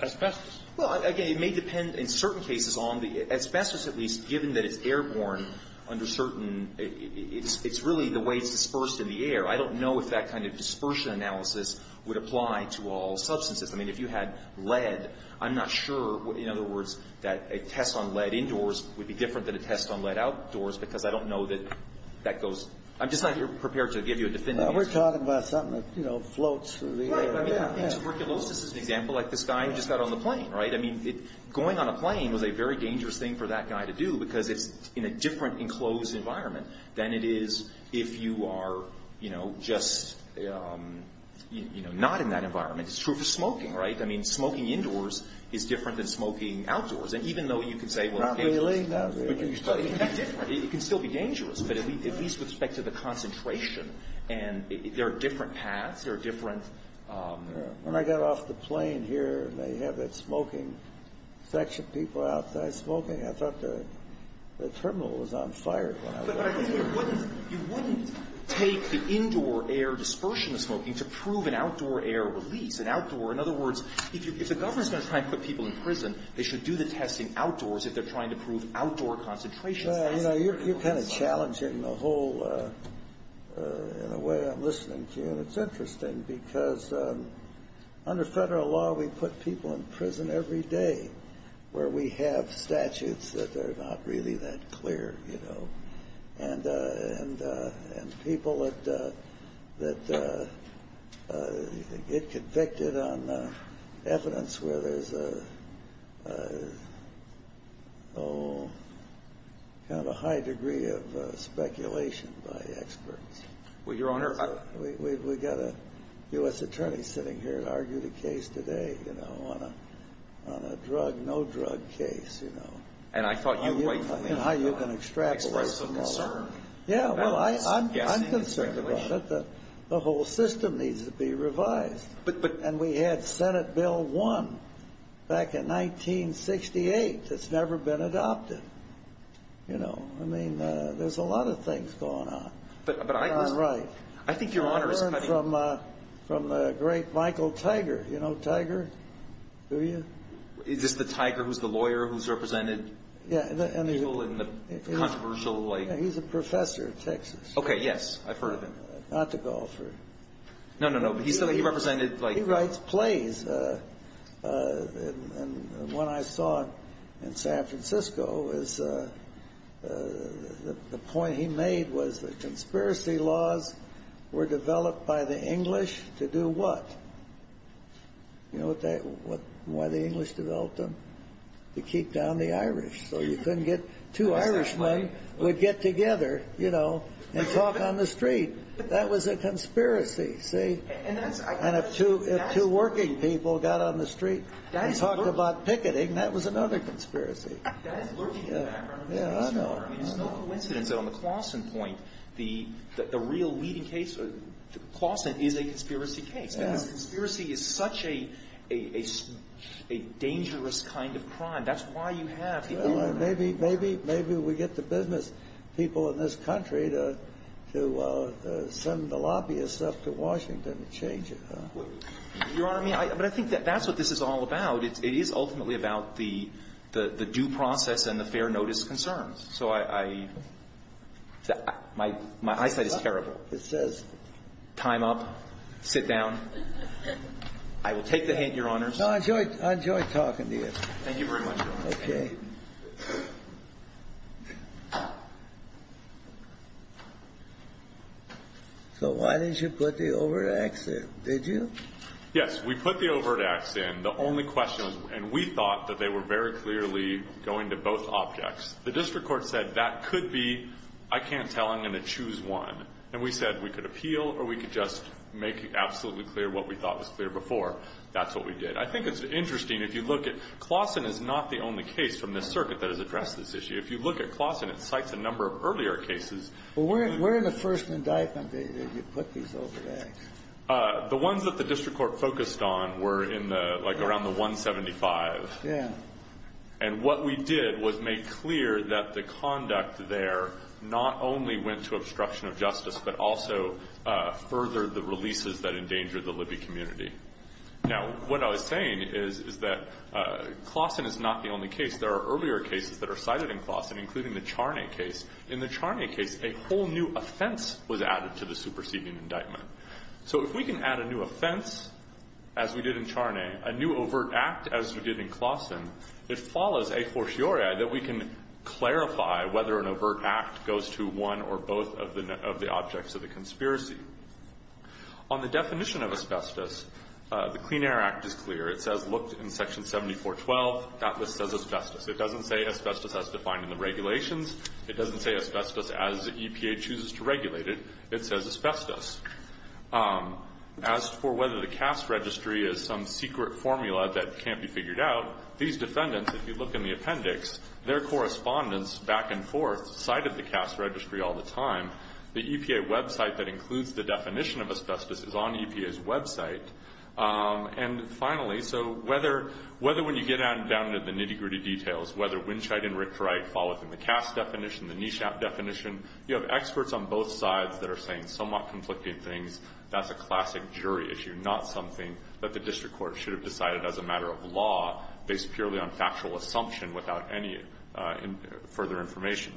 asbestos. Well, again, it may depend in certain cases on the – asbestos, at least, given that it's airborne under certain – it's really the way it's dispersed in the air. I don't know if that kind of dispersion analysis would apply to all substances. I mean, if you had lead, I'm not sure – in other words, that a test on lead indoors would be different than a test on lead outdoors, because I don't know that that goes – I'm just not prepared to give you a definitive answer. We're talking about something that floats through the air. Right, but I mean, tuberculosis is an example, like this guy who just got on the plane, right? I mean, going on a plane was a very dangerous thing for that guy to do, because it's in a different enclosed environment than it is if you are just not in that environment. It's true for smoking, right? I mean, smoking indoors is different than smoking outdoors. And even though you can say, well – Not really, no. But you still – I mean, that's different. It can still be dangerous, but at least with respect to the concentration. And there are different paths. There are different – When I got off the plane here, and they have that smoking section, people outside smoking, I thought the terminal was on fire when I walked in. But I think you wouldn't – you wouldn't take the indoor air dispersion of smoking to prove an outdoor air release, an outdoor – in other words, if the government's going to try and put people in prison, they should do the testing outdoors if they're trying to prove outdoor concentration. Well, you know, you're kind of challenging the whole – in a way, I'm listening to you. And it's interesting, because under federal law, we put people in prison every day where we have statutes that are not really that clear, you know. And people that get convicted on evidence where there's a – oh, kind of a high degree of speculation by experts. Well, Your Honor, I – We've got a U.S. attorney sitting here to argue the case today, you know, on a drug, no-drug case, you know. And I thought you – I mean, how you can extract those from the law. Express some concern. Yeah, well, I'm concerned about it, that the whole system needs to be revised. But – And we had Senate Bill 1 back in 1968 that's never been adopted, you know. I mean, there's a lot of things going on. But I was – And I'm right. I think Your Honor is – I learned from the great Michael Tiger. You know Tiger? Do you? Is this the Tiger who's the lawyer who's represented? Yeah, and – People in the controversial, like – Yeah, he's a professor at Texas. Okay, yes. I've heard of him. Not the golfer. No, no, no. But he represented, like – He writes plays. And when I saw him in San Francisco, the point he made was the conspiracy laws were developed by the English to do what? You know what they – To keep down the Irish. So you couldn't get – Two Irishmen would get together, you know, and talk on the street. That was a conspiracy, see? And that's – And if two working people got on the street and talked about picketing, that was another conspiracy. That is lurking in the background of the case, Your Honor. I mean, it's no coincidence that on the Claussen point, the real leading case, Claussen is a conspiracy case. Conspiracy is such a dangerous kind of crime. That's why you have – Well, maybe we get the business people in this country to send the lobbyists up to Washington to change it, huh? Your Honor, I mean, but I think that's what this is all about. It is ultimately about the due process and the fair notice concerns. So I – my eyesight is terrible. It says – Time up. Sit down. I will take the hint, Your Honors. No, I enjoyed – I enjoyed talking to you. Thank you very much, Your Honor. Okay. So why didn't you put the overt acts in? Did you? Yes, we put the overt acts in. The only question was – and we thought that they were very clearly going to both objects. The district court said that could be – I can't tell. I'm going to choose one. And we said we could appeal or we could just make absolutely clear what we thought was clear before. That's what we did. I think it's interesting if you look at – Claussen is not the only case from this circuit that has addressed this issue. If you look at Claussen, it cites a number of earlier cases. Well, where in the first indictment did you put these overt acts? The ones that the district court focused on were in the – like around the 175. Yeah. And what we did was make clear that the conduct there not only went to obstruction of justice but also furthered the releases that endangered the Libby community. Now, what I was saying is that Claussen is not the only case. There are earlier cases that are cited in Claussen, including the Charney case. In the Charney case, a whole new offense was added to the superseding indictment. So if we can add a new offense, as we did in Charney, a new overt act, as we did in Claussen, it follows a fortiori that we can clarify whether an overt act goes to one or both of the objects of the conspiracy. On the definition of asbestos, the Clean Air Act is clear. It says, looked in Section 7412, that this says asbestos. It doesn't say asbestos as defined in the regulations. It doesn't say asbestos as EPA chooses to regulate it. It says asbestos. As for whether the C.A.S.T. Registry is some secret formula that can't be figured out, these defendants, if you look in the appendix, their correspondence back and forth cited the C.A.S.T. Registry all the time. The EPA website that includes the definition of asbestos is on EPA's website. And finally, so whether when you get down to the nitty-gritty details, whether Winshite and Richrite fall within the C.A.S.T. definition, the NESHAP definition, you have experts on both sides that are saying somewhat conflicting things. That's a classic jury issue, not something that the district court should have decided as a matter of law based purely on factual assumption without any further information.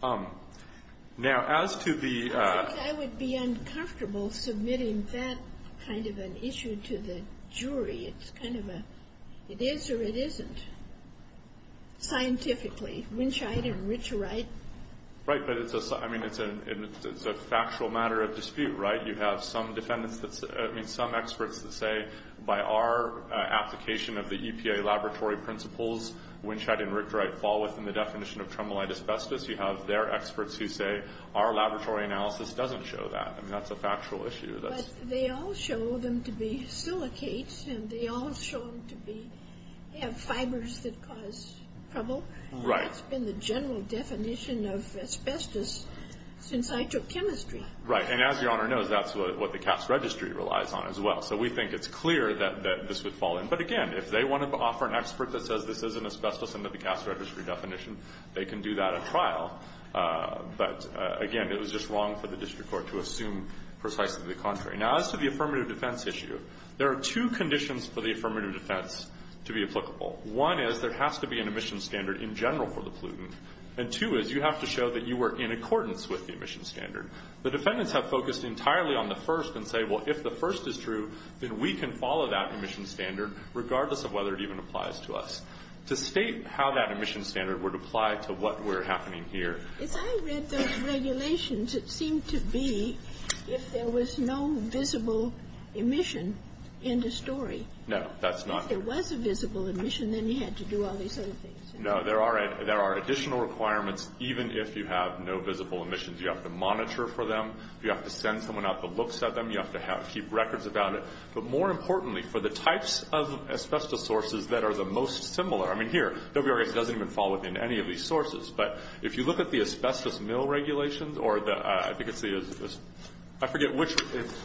Now as to the ‑‑ I think I would be uncomfortable submitting that kind of an issue to the jury. It's kind of a ‑‑ it is or it isn't scientifically, Winshite and Richrite. Right. But it's a ‑‑ I mean, it's a factual matter of dispute, right? You have some defendants that say ‑‑ I mean, some experts that say by our application of the EPA laboratory principles, Winshite and Richrite fall within the definition of tremolite asbestos. You have their experts who say our laboratory analysis doesn't show that. I mean, that's a factual issue. But they all show them to be silicates and they all show them to be ‑‑ have fibers that cause trouble. Right. And that's been the general definition of asbestos since I took chemistry. Right. And as Your Honor knows, that's what the Cass Registry relies on as well. So we think it's clear that this would fall in. But again, if they want to offer an expert that says this isn't asbestos under the Cass Registry definition, they can do that at trial. But again, it was just wrong for the district court to assume precisely the contrary. Now as to the affirmative defense issue, there are two conditions for the affirmative defense to be applicable. One is there has to be an emission standard in general for the pollutant. And two is you have to show that you were in accordance with the emission standard. The defendants have focused entirely on the first and say, well, if the first is true, then we can follow that emission standard, regardless of whether it even applies to us. To state how that emission standard would apply to what were happening here ‑‑ If I read those regulations, it seemed to be if there was no visible emission, end of story. No, that's not ‑‑ If there was a visible emission, then you had to do all these other things. No, there are additional requirements even if you have no visible emissions. You have to monitor for them. You have to send someone out that looks at them. You have to keep records about it. But more importantly, for the types of asbestos sources that are the most similar, I mean, here, WREX doesn't even fall within any of these sources. But if you look at the asbestos mill regulations or the ‑‑ I forget which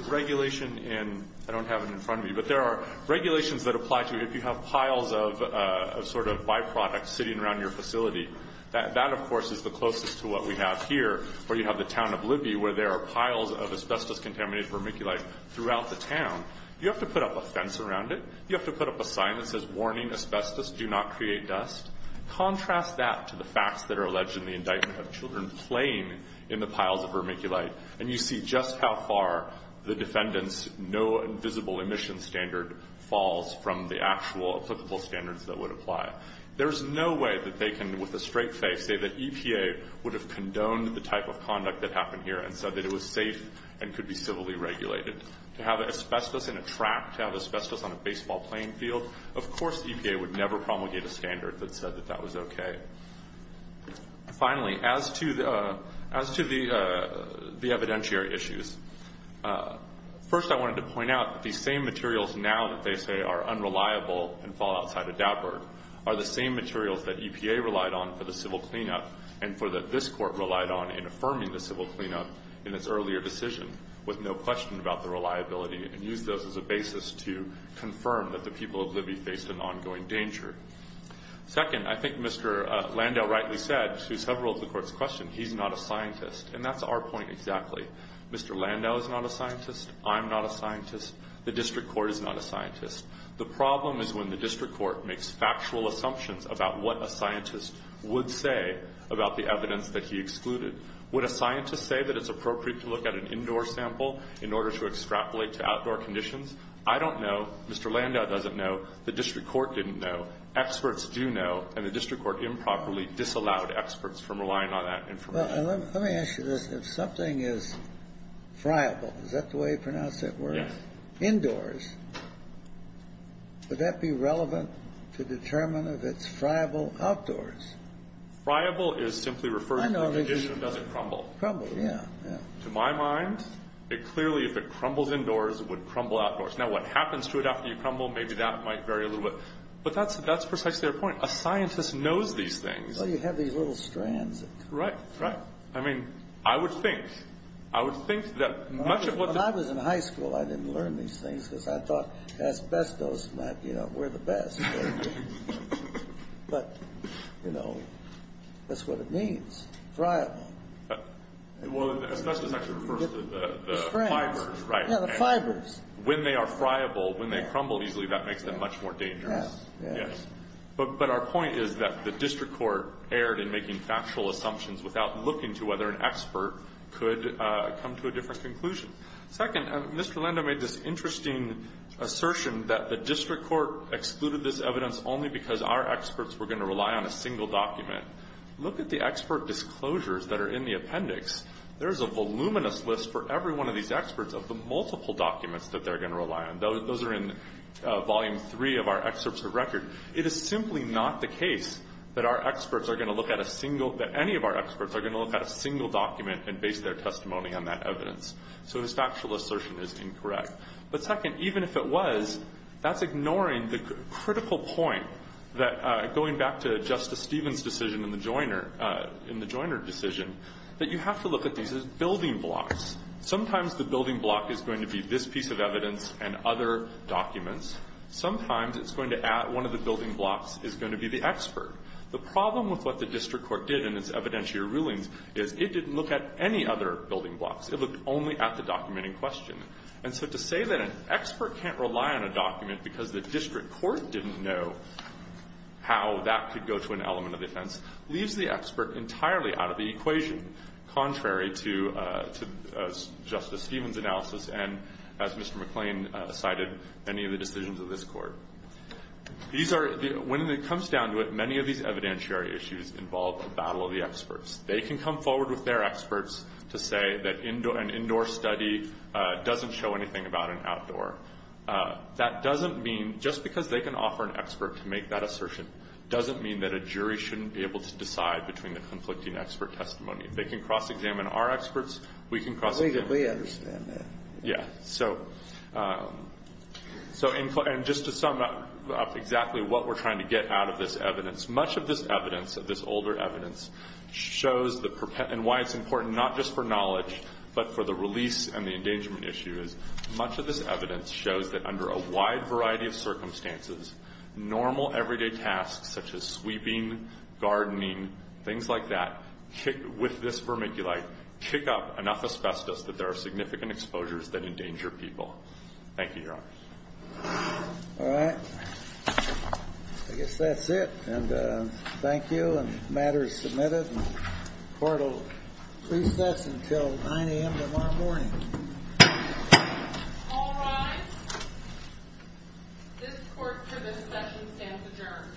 regulation in ‑‑ I don't have it in front of me. But there are regulations that apply to if you have piles of sort of byproducts sitting around your facility. That, of course, is the closest to what we have here where you have the town of Libby where there are piles of asbestos‑contaminated vermiculite throughout the town. You have to put up a fence around it. You have to put up a sign that says, warning, asbestos do not create dust. Contrast that to the facts that are alleged in the indictment of children playing in the piles of vermiculite. And you see just how far the defendant's no visible emission standard falls from the actual applicable standards that would apply. There's no way that they can, with a straight face, say that EPA would have condoned the type of conduct that happened here and said that it was safe and could be civilly regulated. To have asbestos in a track, to have asbestos on a baseball playing field, of course EPA would never promulgate a standard that said that that was okay. Finally, as to the evidentiary issues, first I wanted to point out that these same materials now that they say are unreliable and fall outside a dapper are the same materials that EPA relied on for the civil cleanup and for that this court relied on in affirming the civil cleanup in its earlier decision with no question about the reliability and used those as a basis to confirm that the people of Libby faced an ongoing danger. Second, I think Mr. Landau rightly said to several of the court's questions, he's not a scientist. And that's our point exactly. Mr. Landau is not a scientist. I'm not a scientist. The district court is not a scientist. The problem is when the district court makes factual assumptions about what a scientist would say about the evidence that he excluded. Would a scientist say that it's appropriate to look at an indoor sample in order to extrapolate to outdoor conditions? I don't know. Mr. Landau doesn't know. The district court didn't know. Experts do know. And the district court improperly disallowed experts from relying on that information. Kennedy, let me ask you this. If something is friable, is that the way you pronounce that word? Indoors. Would that be relevant to determine if it's friable outdoors? Friable is simply referring to the condition does it crumble. Crumble, yeah. To my mind, it clearly, if it crumbles indoors, it would crumble outdoors. Now, what happens to it after you crumble, maybe that might vary a little bit. But that's precisely our point. A scientist knows these things. Well, you have these little strands. Right, right. I mean, I would think. I would think that much of what the... I didn't learn these things because I thought asbestos might be, you know, we're the best. But, you know, that's what it means. Friable. Well, asbestos actually refers to the fibers, right? Yeah, the fibers. When they are friable, when they crumble easily, that makes them much more dangerous. Yeah. Yes. But our point is that the district court erred in making factual assumptions without looking to whether an expert could come to a different conclusion. Second, Mr. Lendo made this interesting assertion that the district court excluded this evidence only because our experts were going to rely on a single document. Look at the expert disclosures that are in the appendix. There is a voluminous list for every one of these experts of the multiple documents that they're going to rely on. Those are in volume three of our excerpts of record. It is simply not the case that our experts are going to look at a single... that any of our experts are going to look at a single document and base their testimony on that evidence. So his factual assertion is incorrect. But second, even if it was, that's ignoring the critical point that, going back to Justice Stevens' decision in the Joyner decision, that you have to look at these as building blocks. Sometimes the building block is going to be this piece of evidence and other documents. Sometimes it's going to add one of the building blocks is going to be the expert. The problem with what the district court did in its evidentiary rulings is it didn't look at any other building blocks. It looked only at the document in question. And so to say that an expert can't rely on a document because the district court didn't know how that could go to an element of defense leaves the expert entirely out of the equation, contrary to Justice Stevens' analysis and, as Mr. McClain cited, any of the decisions of this Court. These are the — when it comes down to it, many of these evidentiary issues involve a battle of the experts. They can come forward with their experts to say that an indoor study doesn't show anything about an outdoor. That doesn't mean — just because they can offer an expert to make that assertion doesn't mean that a jury shouldn't be able to decide between the conflicting expert testimony. They can cross-examine our experts. We can cross-examine — We understand that. Yeah. So — and just to sum up exactly what we're trying to get out of this evidence, much of this evidence, of this older evidence, shows the — and why it's important not just for knowledge but for the release and the endangerment issues, much of this evidence shows that under a wide variety of circumstances, normal everyday tasks such as sweeping, gardening, things like that, with this vermiculite, kick up enough asbestos that there are significant exposures that endanger people. Thank you, Your Honor. All right. I guess that's it. And thank you. And the matter is submitted. Court will recess until 9 a.m. tomorrow morning. All rise. This court for this session stands adjourned. Thank you. Thank you.